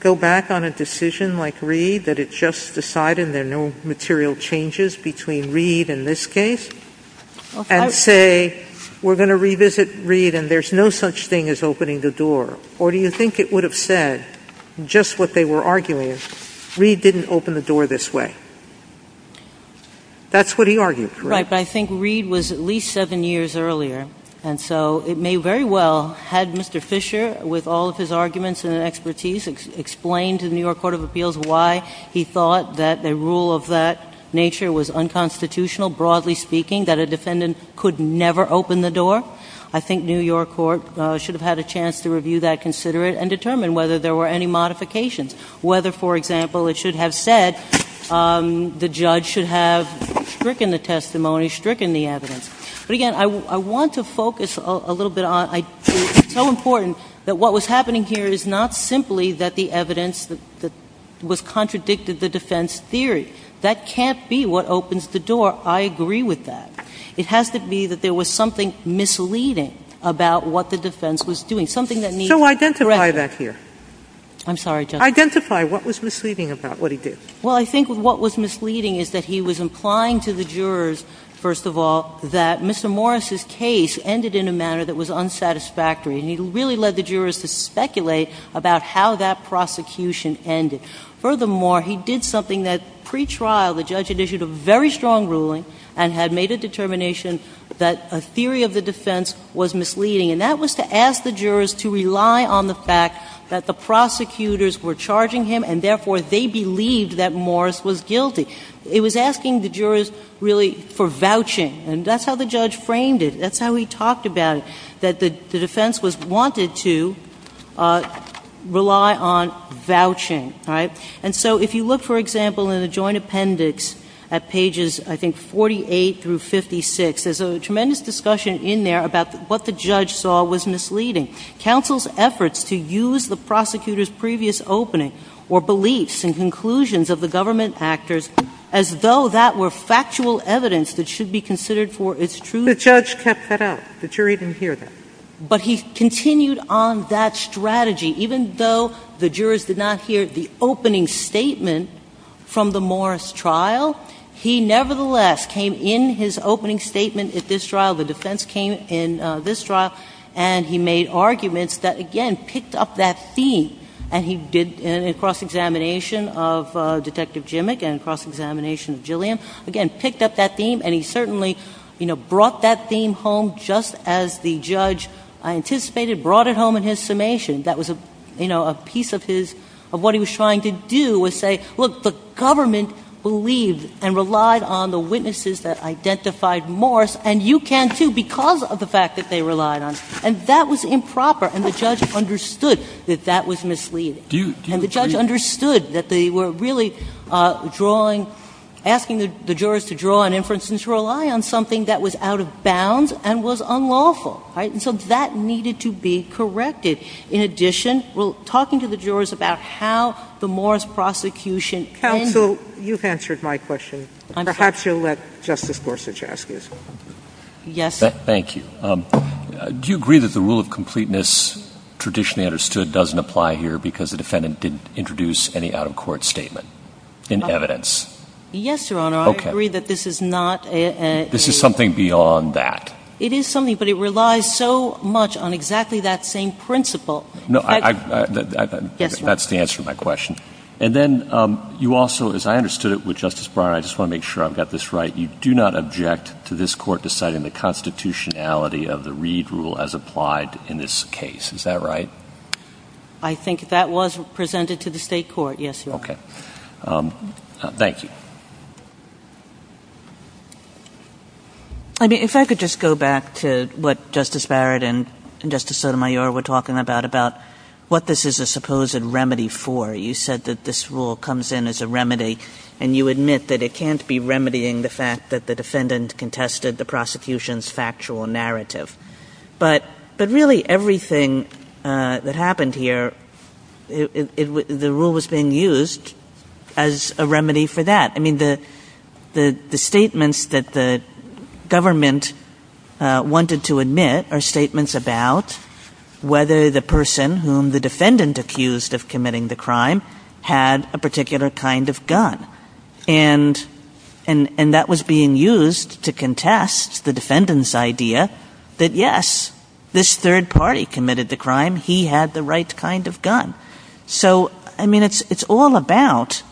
go back on a decision like Reed, that it just decided there are no material changes between Reed in this case? And say, we're going to revisit Reed and there's no such thing as opening the door. Or do you think it would have said, just what they were arguing is, Reed didn't open the door this way? That's what he argued, correct? Right, but I think Reed was at least seven years earlier. And so it may very well had Mr. Fisher, with all of his arguments and expertise, explained to the New York Court of Appeals why he thought that a rule of that nature was unconstitutional, broadly speaking, that a defendant could never open the door. I think New York Court should have had a chance to review that, consider it, and determine whether there were any modifications. Whether, for example, it should have said, the judge should have stricken the testimony, stricken the evidence. But again, I want to focus a little bit on, it's so important that what was happening here is not simply that the evidence that was contradicted the defense theory. That can't be what opens the door. I agree with that. It has to be that there was something misleading about what the defense was doing. So identify that here. I'm sorry, Justice? Identify what was misleading about what he did. Well, I think what was misleading is that he was implying to the jurors, first of all, that Mr. Morris' case ended in a manner that was unsatisfactory. And he really led the jurors to speculate about how that prosecution ended. Furthermore, he did something that, pre-trial, the judge had issued a very strong ruling and had made a determination that a theory of the defense was misleading. And that was to ask the jurors to rely on the fact that the prosecutors were charging him and therefore they believed that Morris was guilty. It was asking the jurors really for vouching. And that's how the judge framed it. That's how he talked about it, that the defense was wanting to rely on vouching, right? And so if you look, for example, in the joint appendix at pages, I think, 48 through 56, there's a tremendous discussion in there about what the judge saw was misleading. Counsel's efforts to use the prosecutor's previous opening or beliefs and conclusions of the government actors as though that were factual evidence that should be considered for its truth. The judge kept that up. The jury didn't hear that. But he continued on that strategy even though the jurors did not hear the opening statement from the Morris trial, he nevertheless came in his opening statement at this trial, the defense came in this trial, and he made arguments that, again, picked up that theme and he did a cross-examination of Detective Jimmick and cross-examination of Gilliam. Again, picked up that theme and he certainly, you know, brought that theme home just as the judge anticipated, brought it home in his summation. That was, you know, a piece of his, of what he was trying to do was say, look, the government believed and relied on the witnesses that identified Morris and you can too because of the fact that they relied on. And that was improper and the judge understood that that was misleading. And the judge understood that they were really drawing, asking the jurors to draw an inference and to rely on something that was out of bounds and was unlawful, right? And so that needed to be corrected. In addition, talking to the jurors about how the Morris prosecution. Counsel, you've answered my question. Perhaps you'll let Justice Gorsuch ask this one. Yes. Thank you. Do you agree that the rule of completeness traditionally understood doesn't apply here because the defendant didn't introduce any out-of-court statement in evidence? Yes, Your Honor. Okay. I agree that this is not a. This is something beyond that. It is something, but it relies so much on exactly that same principle. No, I, that's the answer to my question. And then you also, as I understood it with Justice Breyer, I just want to make sure I've got this right. You do not object to this court deciding the constitutionality of the Reed rule as applied in this case. Is that right? I think that was presented to the state court, yes, Your Honor. Okay. Thank you. I mean, if I could just go back to what Justice Barrett and Justice Sotomayor were talking about, about what this is a supposed remedy for. You said that this rule comes in as a remedy and you admit that it can't be remedying the fact that the defendant contested the prosecution's factual narrative. But, but really everything that happened here, the rule was being used as a remedy for that. I mean, the, the, the statements that the government wanted to admit are statements about whether the person whom the defendant accused of committing the crime had a particular kind of gun and, and, and that was being used to contest the defendant's idea that yes, this third party committed the crime. He had the right kind of gun. So, I mean, it's, it's all about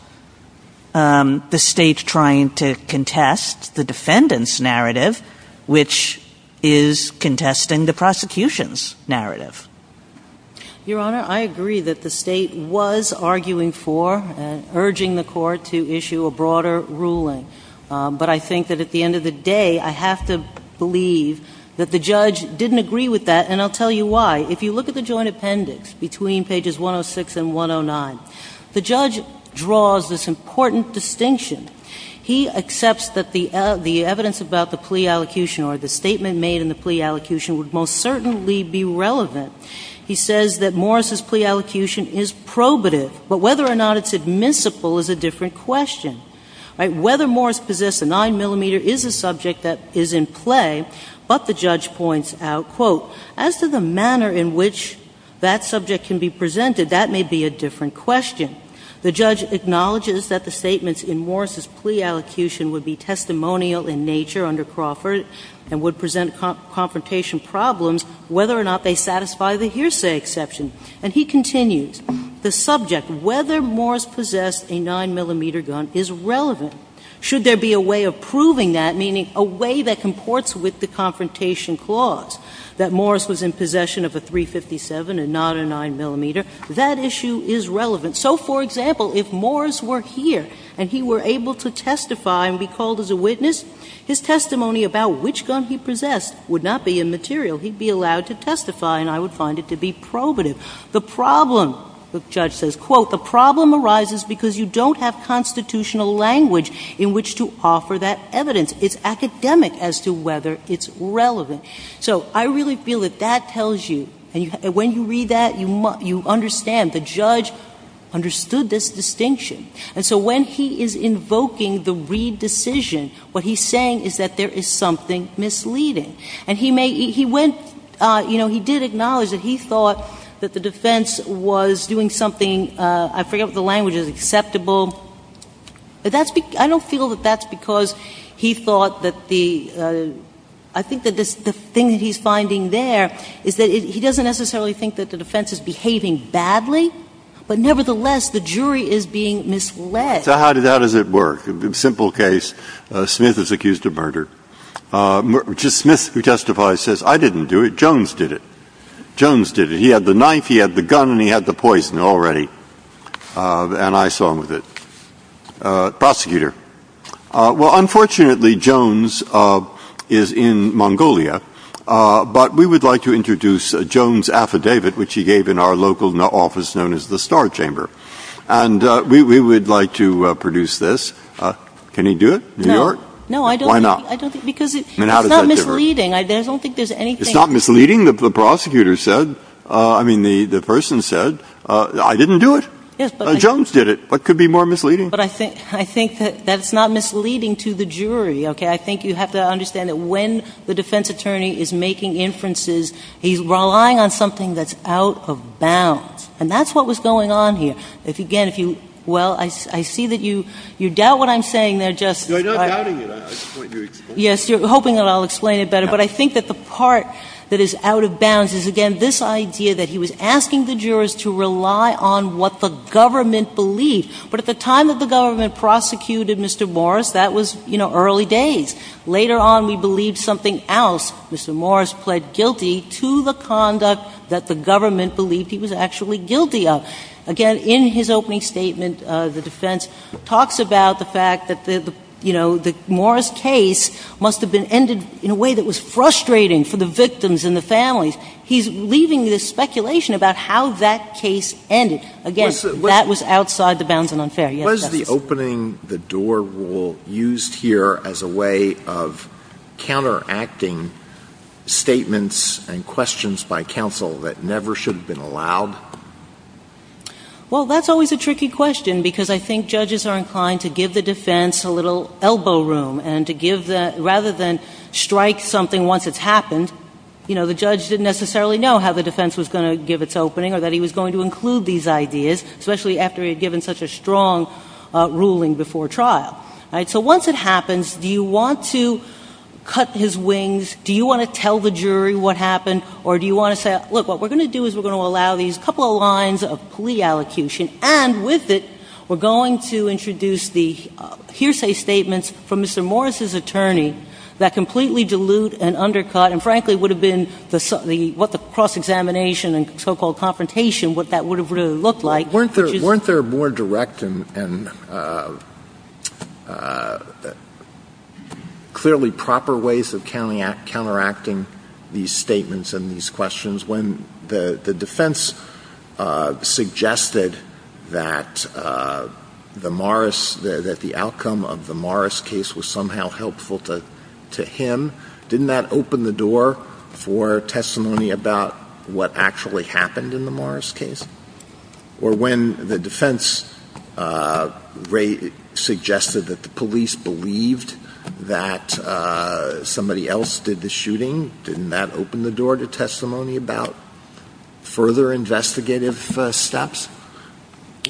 the state trying to contest the defendant's narrative, which is contesting the prosecution's narrative. Your Honor, I agree that the state was arguing for and urging the court to issue a broader ruling. But I think that at the end of the day, I have to believe that the judge didn't agree with that. And I'll tell you why. If you look at the joint appendix between pages 106 and 109, the judge draws this important distinction. He accepts that the, the evidence about the plea allocution or the statement made in the plea allocution would most certainly be relevant. He says that Morris's plea allocution is probative, but whether or not it's admissible is a different question. Right? Whether Morris possessed a 9-millimeter is a subject that is in play, but the judge points out, quote, as to the manner in which that subject can be presented, that may be a different question. The judge acknowledges that the statements in Morris's plea allocution would be testimonial in nature under Crawford and would present confrontation problems, whether or not they satisfy the hearsay exception. And he continues, the subject, whether Morris possessed a 9-millimeter gun is relevant. Should there be a way of proving that, meaning a way that comports with the confrontation clause, that Morris was in possession of a .357 and not a 9-millimeter, that issue is relevant. So, for example, if Morris were here and he were able to testify and be called as a witness, his testimony about which gun he possessed would not be immaterial. He'd be allowed to testify, and I would find it to be probative. The problem, the judge says, quote, the problem arises because you don't have constitutional language in which to offer that evidence. It's academic as to whether it's relevant. So I really feel that that tells you, and when you read that, you understand the judge understood this distinction. And so when he is invoking the Reid decision, what he's saying is that there is something misleading. And he may, he went, you know, he did acknowledge that he thought that the defense was doing something, I forget what the language is, acceptable. But that's, I don't feel that that's because he thought that the, I think that the thing he's finding there is that he doesn't necessarily think that the defense is behaving badly, but nevertheless, the jury is being misled. So how does it work? Simple case. Smith is accused of murder. Smith, who testifies, says, I didn't do it. Jones did it. Jones did it. He had the knife, he had the gun, and he had the poison already. And I slung with it. Prosecutor. Well, unfortunately, Jones is in Mongolia. But we would like to introduce a Jones affidavit, which he gave in our local office known as the Star Chamber. And we would like to produce this. Can he do it? New York? No, I don't. Why not? Because it's not misleading. I don't think there's anything. It's not misleading. The prosecutor said, I mean, the person said, I didn't do it. Jones did it. What could be more misleading? But I think that that's not misleading to the jury, OK? I think you have to understand that when the defense attorney is making inferences, he's relying on something that's out of bounds. And that's what was going on here. If, again, if you, well, I see that you doubt what I'm saying there, just. Yes, you're hoping that I'll explain it better. But I think that the part that is out of bounds is, again, this idea that he was asking the government belief. But at the time that the government prosecuted Mr. Morris, that was early days. Later on, he believed something else. Mr. Morris pled guilty to the conduct that the government believed he was actually guilty of. Again, in his opening statement, the defense talks about the fact that the Morris case must have been ended in a way that was frustrating for the victims and the families. He's leaving this speculation about how that case ended. Again, that was outside the bounds and unfair. Was the opening the door rule used here as a way of counteracting statements and questions by counsel that never should have been allowed? Well, that's always a tricky question because I think judges are inclined to give the defense a little elbow room and to give that rather than strike something once it's happened. You know, the judge didn't necessarily know how the defense was going to give its opening or that he was going to include these ideas, especially after he had given such a strong ruling before trial. So once it happens, do you want to cut his wings? Do you want to tell the jury what happened? Or do you want to say, look, what we're going to do is we're going to allow these couple of lines of plea allocution. And with it, we're going to introduce the hearsay statements from Mr. Morris's attorney that completely dilute and undercut and, frankly, would have been what the cross examination and so-called confrontation, what that would have really looked like. Weren't there more direct and clearly proper ways of counteracting these statements and these questions when the defense suggested that the outcome of the Morris case was somehow helpful to him? Didn't that open the door for testimony about what actually happened in the Morris case? Or when the defense suggested that the police believed that somebody else did the shooting, didn't that open the door to testimony about further investigative steps?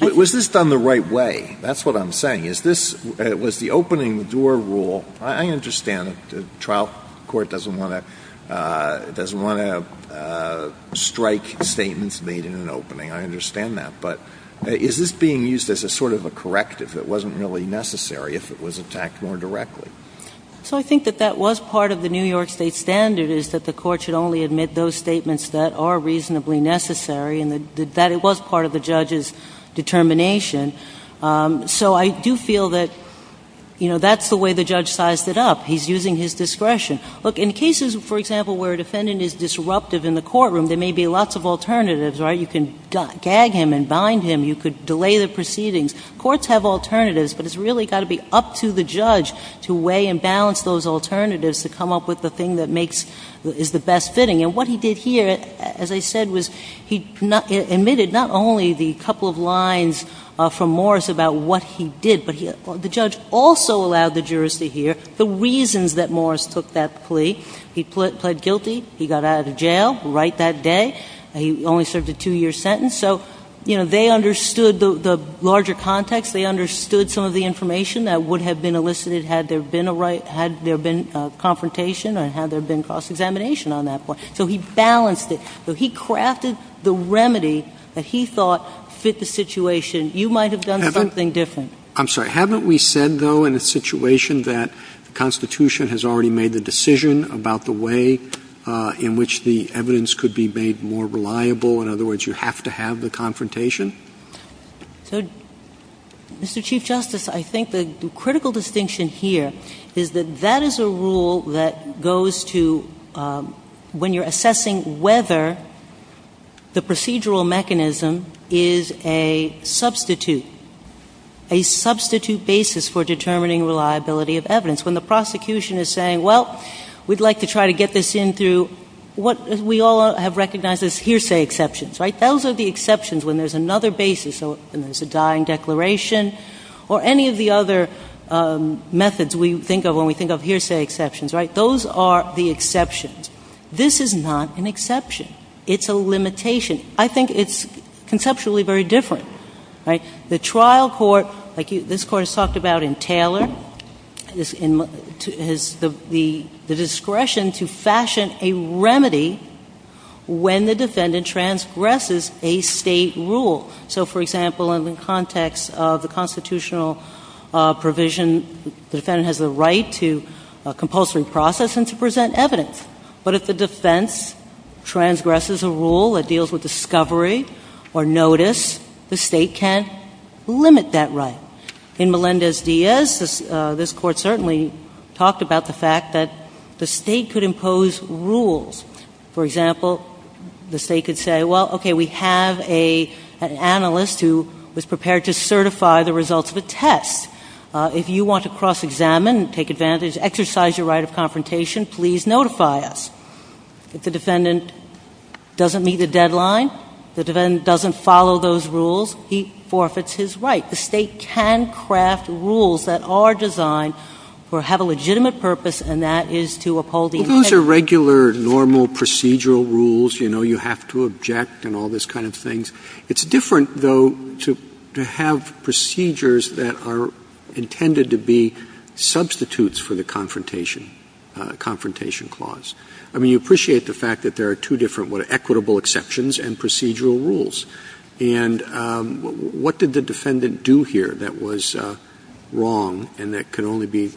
Was this done the right way? That's what I'm saying. Was the opening the door rule? I understand the trial court doesn't want to strike statements made in an opening. I understand that. But is this being used as a sort of a corrective? It wasn't really necessary if it was attacked more directly. So I think that that was part of the New York state standard is that the court should only admit those statements that are reasonably necessary and that it was part of the judge's determination. So I do feel that that's the way the judge sized it up. He's using his discretion. Look, in cases, for example, where a defendant is disruptive in the courtroom, there may be lots of alternatives, right? You can gag him and bind him. You could delay the proceedings. Courts have alternatives. But it's really got to be up to the judge to weigh and balance those alternatives to come up with the thing that is the best fitting. And what he did here, as I said, was he admitted not only the couple of lines of the from Morris about what he did, but the judge also allowed the jurors to hear the reasons that Morris took that plea. He pled guilty. He got out of jail right that day. He only served a two-year sentence. So they understood the larger context. They understood some of the information that would have been elicited had there been a right, had there been a confrontation or had there been cross-examination on that point. So he balanced it. So he crafted the remedy that he thought fit the situation. You might have done something different. I'm sorry. Haven't we said, though, in a situation that the Constitution has already made a decision about the way in which the evidence could be made more reliable? In other words, you have to have the confrontation? So, Mr. Chief Justice, I think the critical distinction here is that that is a rule that the procedural mechanism is a substitute, a substitute basis for determining reliability of evidence. When the prosecution is saying, well, we'd like to try to get this in through what we all have recognized as hearsay exceptions, right? Those are the exceptions when there's another basis, when there's a dying declaration or any of the other methods we think of when we think of hearsay exceptions, right? Those are the exceptions. This is not an exception. It's a limitation. I think it's conceptually very different, right? The trial court, like this Court has talked about in Taylor, has the discretion to fashion a remedy when the defendant transgresses a state rule. So, for example, in the context of the constitutional provision, the defendant has a right to compulsory process and to present evidence. But if the defense transgresses a rule that deals with discovery or notice, the state can't limit that right. In Melendez-Diaz, this Court certainly talked about the fact that the state could impose rules. For example, the state could say, well, okay, we have an analyst who was prepared to certify the results of a test. If you want to cross-examine and take advantage, exercise your right of confrontation, please notify us. If the defendant doesn't meet a deadline, the defendant doesn't follow those rules, he forfeits his right. The state can craft rules that are designed or have a legitimate purpose, and that is to uphold the intent— Those are regular, normal procedural rules. You know, you have to object and all those kind of things. It's different, though, to have procedures that are intended to be substitutes for the confrontation clause. I mean, you appreciate the fact that there are two different equitable exceptions and procedural rules. And what did the defendant do here that was wrong and that could only be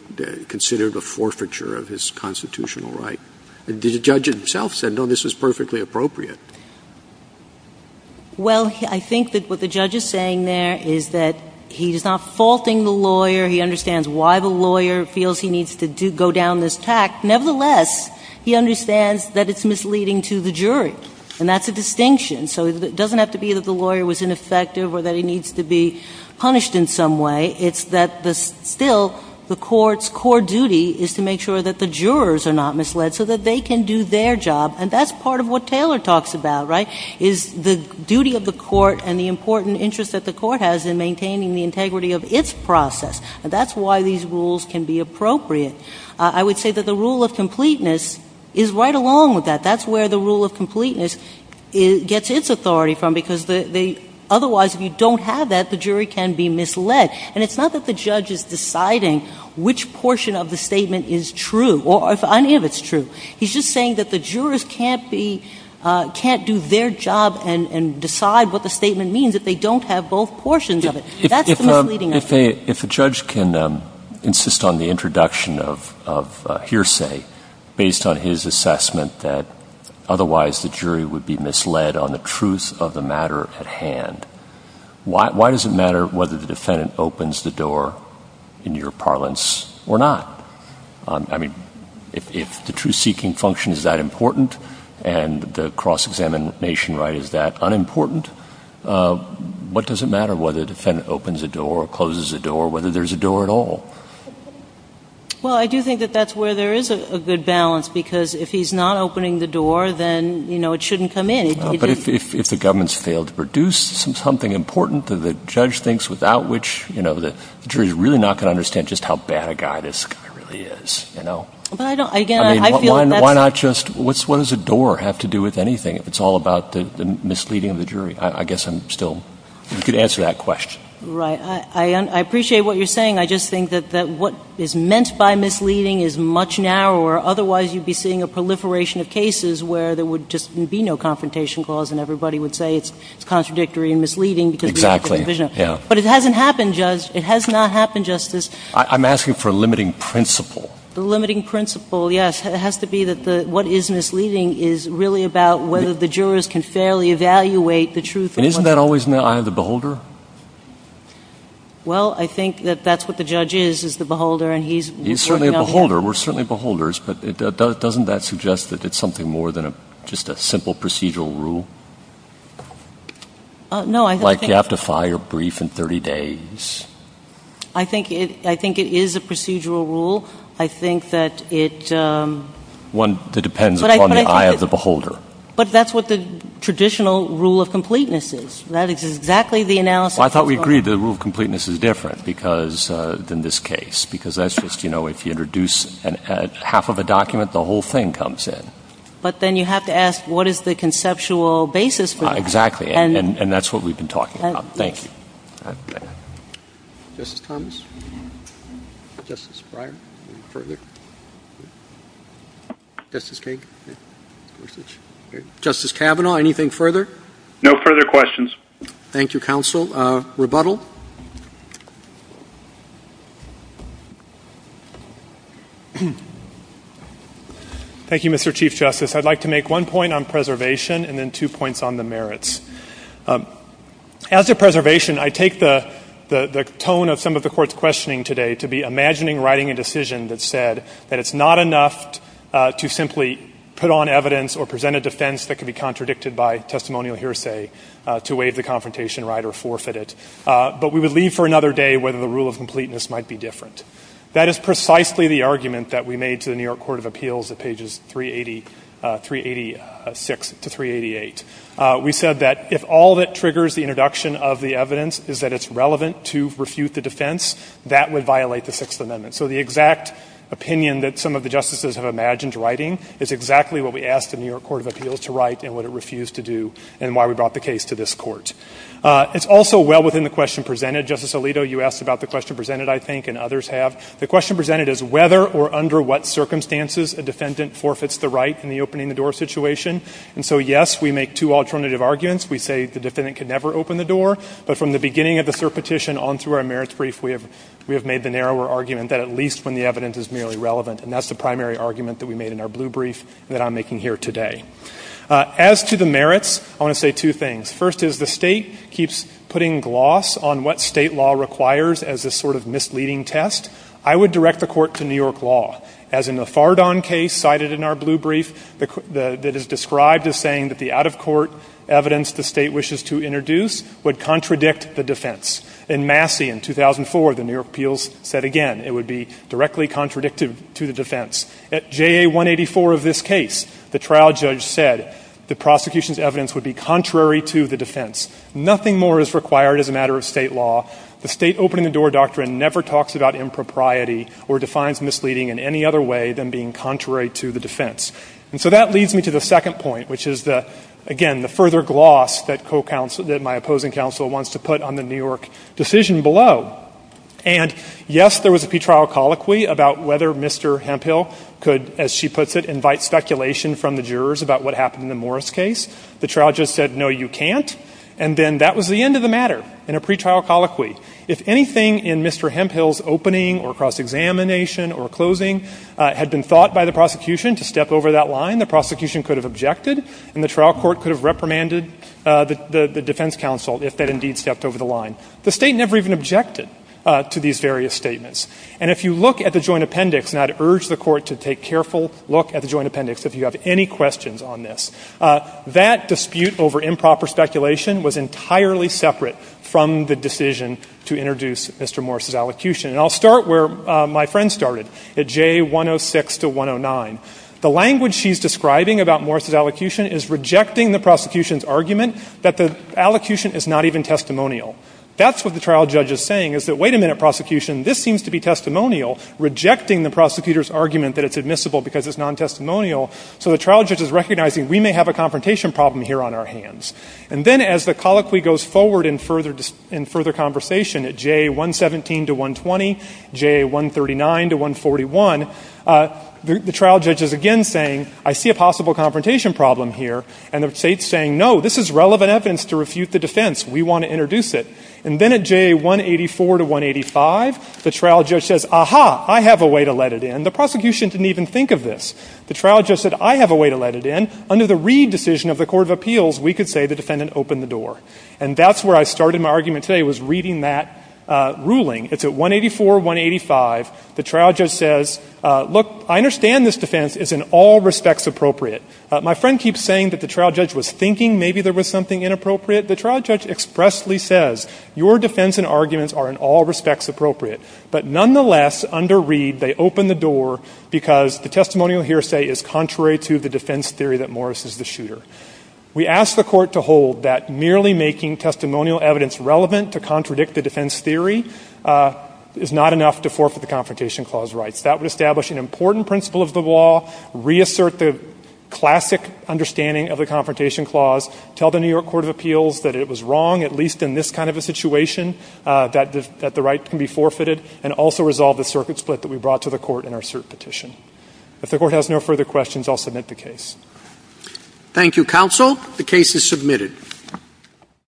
considered a forfeiture of his constitutional right? The judge himself said, no, this is perfectly appropriate. Well, I think that what the judge is saying there is that he's not faulting the lawyer. He understands why the lawyer feels he needs to go down this path. Nevertheless, he understands that it's misleading to the jury. And that's a distinction. So it doesn't have to be that the lawyer was ineffective or that he needs to be punished in some way. It's that, still, the court's core duty is to make sure that the jurors are not misled so that they can do their job. And that's part of what Taylor talks about, right, is the duty of the court and the important interest that the court has in maintaining the integrity of its process. And that's why these rules can be appropriate. I would say that the rule of completeness is right along with that. That's where the rule of completeness gets its authority from, because otherwise, if you don't have that, the jury can be misled. And it's not that the judge is deciding which portion of the statement is true or if it's true. He's just saying that the jurors can't do their job and decide what the statement means if they don't have both portions of it. That's the rule of completeness. If a judge can insist on the introduction of hearsay based on his assessment that otherwise the jury would be misled on the truth of the matter at hand, why does it matter whether the defendant opens the door in your parlance or not? I mean, if the truth-seeking function is that important and the cross-examination right is that unimportant, what does it matter whether the defendant opens a door, closes a door, whether there's a door at all? Well, I do think that that's where there is a good balance, because if he's not opening the door, then it shouldn't come in. But if the government's failed to produce something important that the judge thinks without which the jury's really not going to understand just how bad a guy this guy really is. But again, I feel that that's- Why not just- what does a door have to do with anything if it's all about the misleading of the jury? I guess I'm still- you could answer that question. Right. I appreciate what you're saying. I just think that what is meant by misleading is much narrower. Otherwise, you'd be seeing a proliferation of cases where there would just be no confrontation clause, and everybody would say it's contradictory and misleading because- Exactly, yeah. But it hasn't happened just- it has not happened just as- I'm asking for a limiting principle. The limiting principle, yes. It has to be that what is misleading is really about whether the jurors can fairly evaluate the truth of- Isn't that always the eye of the beholder? Well, I think that that's what the judge is, is the beholder, and he's- He's certainly a beholder. We're certainly beholders. But doesn't that suggest that it's something more than just a simple procedural rule? No, I think- Like you have to file your brief in 30 days. I think it is a procedural rule. I think that it- One that depends upon the eye of the beholder. But that's what the traditional rule of completeness is, right? It's exactly the analysis- Well, I thought we agreed the rule of completeness is different than this case, because that's just, you know, if you introduce half of a document, the whole thing comes in. But then you have to ask, what is the conceptual basis for that? Exactly, and that's what we've been talking about. Thank you. Justice Thomas? Justice Breyer? Justice Kagan? Justice Kavanaugh, anything further? No further questions. Thank you, counsel. Rebuttal? Thank you, Mr. Chief Justice. I'd like to make one point on preservation, and then two points on the merits. As a preservation, I take the tone of some of the court's questioning today to be imagining writing a decision that said that it's not enough to simply put on evidence or present a defense that could be contradicted by testimonial hearsay to waive the confrontation right or forfeit it. But we would leave for another day whether the rule of completeness might be different. That is precisely the argument that we made to the New York Court of Appeals at pages 386 to 388. We said that if all that triggers the introduction of the evidence is that it's relevant to refute the defense, that would violate the Sixth Amendment. So the exact opinion that some of the justices have imagined writing is exactly what we asked the New York Court of Appeals to write and what it refused to do and why we brought the case to this court. It's also well within the question presented. Justice Alito, you asked about the question presented, I think, and others have. The question presented is whether or under what circumstances a defendant forfeits the right in the opening-the-door situation. And so, yes, we make two alternative arguments. We say the defendant can never open the door. But from the beginning of the cert petition on through our merits brief, we have made the narrower argument that at least when the evidence is merely relevant. And that's the primary argument that we made in our blue brief that I'm making here today. As to the merits, I want to say two things. First is the state keeps putting gloss on what state law requires as a sort of misleading test. I would direct the court to New York law, as in the Fardon case cited in our blue brief that is described as saying that the out-of-court evidence the state wishes to introduce would contradict the defense. In Massey in 2004, the New York appeals said again, it would be directly contradictive to the defense. At JA 184 of this case, the trial judge said the prosecution's evidence would be contrary to the defense. Nothing more is required as a matter of state law. The state opening-the-door doctrine never talks about impropriety or defines misleading in any other way than being contrary to the defense. So that leads me to the second point, which is, again, the further gloss that my opposing counsel wants to put on the New York decision below. And yes, there was a pre-trial colloquy about whether Mr. Hemphill could, as she puts it, invite speculation from the jurors about what happened in the Morris case. The trial judge said, no, you can't. And then that was the end of the matter in a pre-trial colloquy. If anything in Mr. Hemphill's opening or cross-examination or closing had been thought by the prosecution to step over that line, the prosecution could have objected, and the trial court could have reprimanded the defense counsel if that indeed stepped over the line. The state never even objected to these various statements. And if you look at the joint appendix-and I'd urge the court to take a careful look at the joint appendix if you have any questions on this-that dispute over improper speculation was entirely separate from the decision to introduce Mr. Morris's allocution. And I'll start where my friend started, at J106 to 109. The language she's describing about Morris's allocution is rejecting the prosecution's argument that the allocution is not even testimonial. That's what the trial judge is saying, is that, wait a minute, prosecution, this seems to be testimonial, rejecting the prosecutor's argument that it's admissible because it's non-testimonial. So the trial judge is recognizing we may have a confrontation problem here on our hands. And then as the colloquy goes forward in further conversation at JA117 to 120, JA139 to 141, the trial judge is again saying, I see a possible confrontation problem here. And the state's saying, no, this is relevant evidence to refute the defense. We want to introduce it. And then at JA184 to 185, the trial judge says, aha, I have a way to let it in. The prosecution didn't even think of this. The trial judge said, I have a way to let it in. Under the Reed decision of the Court of Appeals, we could say the defendant opened the door. And that's where I started my argument today, was reading that ruling. It's at 184, 185. The trial judge says, look, I understand this defense is in all respects appropriate. My friend keeps saying that the trial judge was thinking maybe there was something inappropriate. The trial judge expressly says, your defense and arguments are in all respects appropriate. But nonetheless, under Reed, they opened the door because the testimonial hearsay is contrary to the defense theory that Morris is the shooter. We ask the Court to hold that merely making testimonial evidence relevant to contradict the defense theory is not enough to forfeit the Confrontation Clause rights. That would establish an important principle of the law, reassert the classic understanding of the Confrontation Clause, tell the New York Court of Appeals that it was wrong, at least in this kind of a situation, that the rights can be forfeited, and also resolve the circuit split that we brought to the Court in our cert petition. If the Court has no further questions, I'll submit the case. Thank you, Counsel. The case is submitted.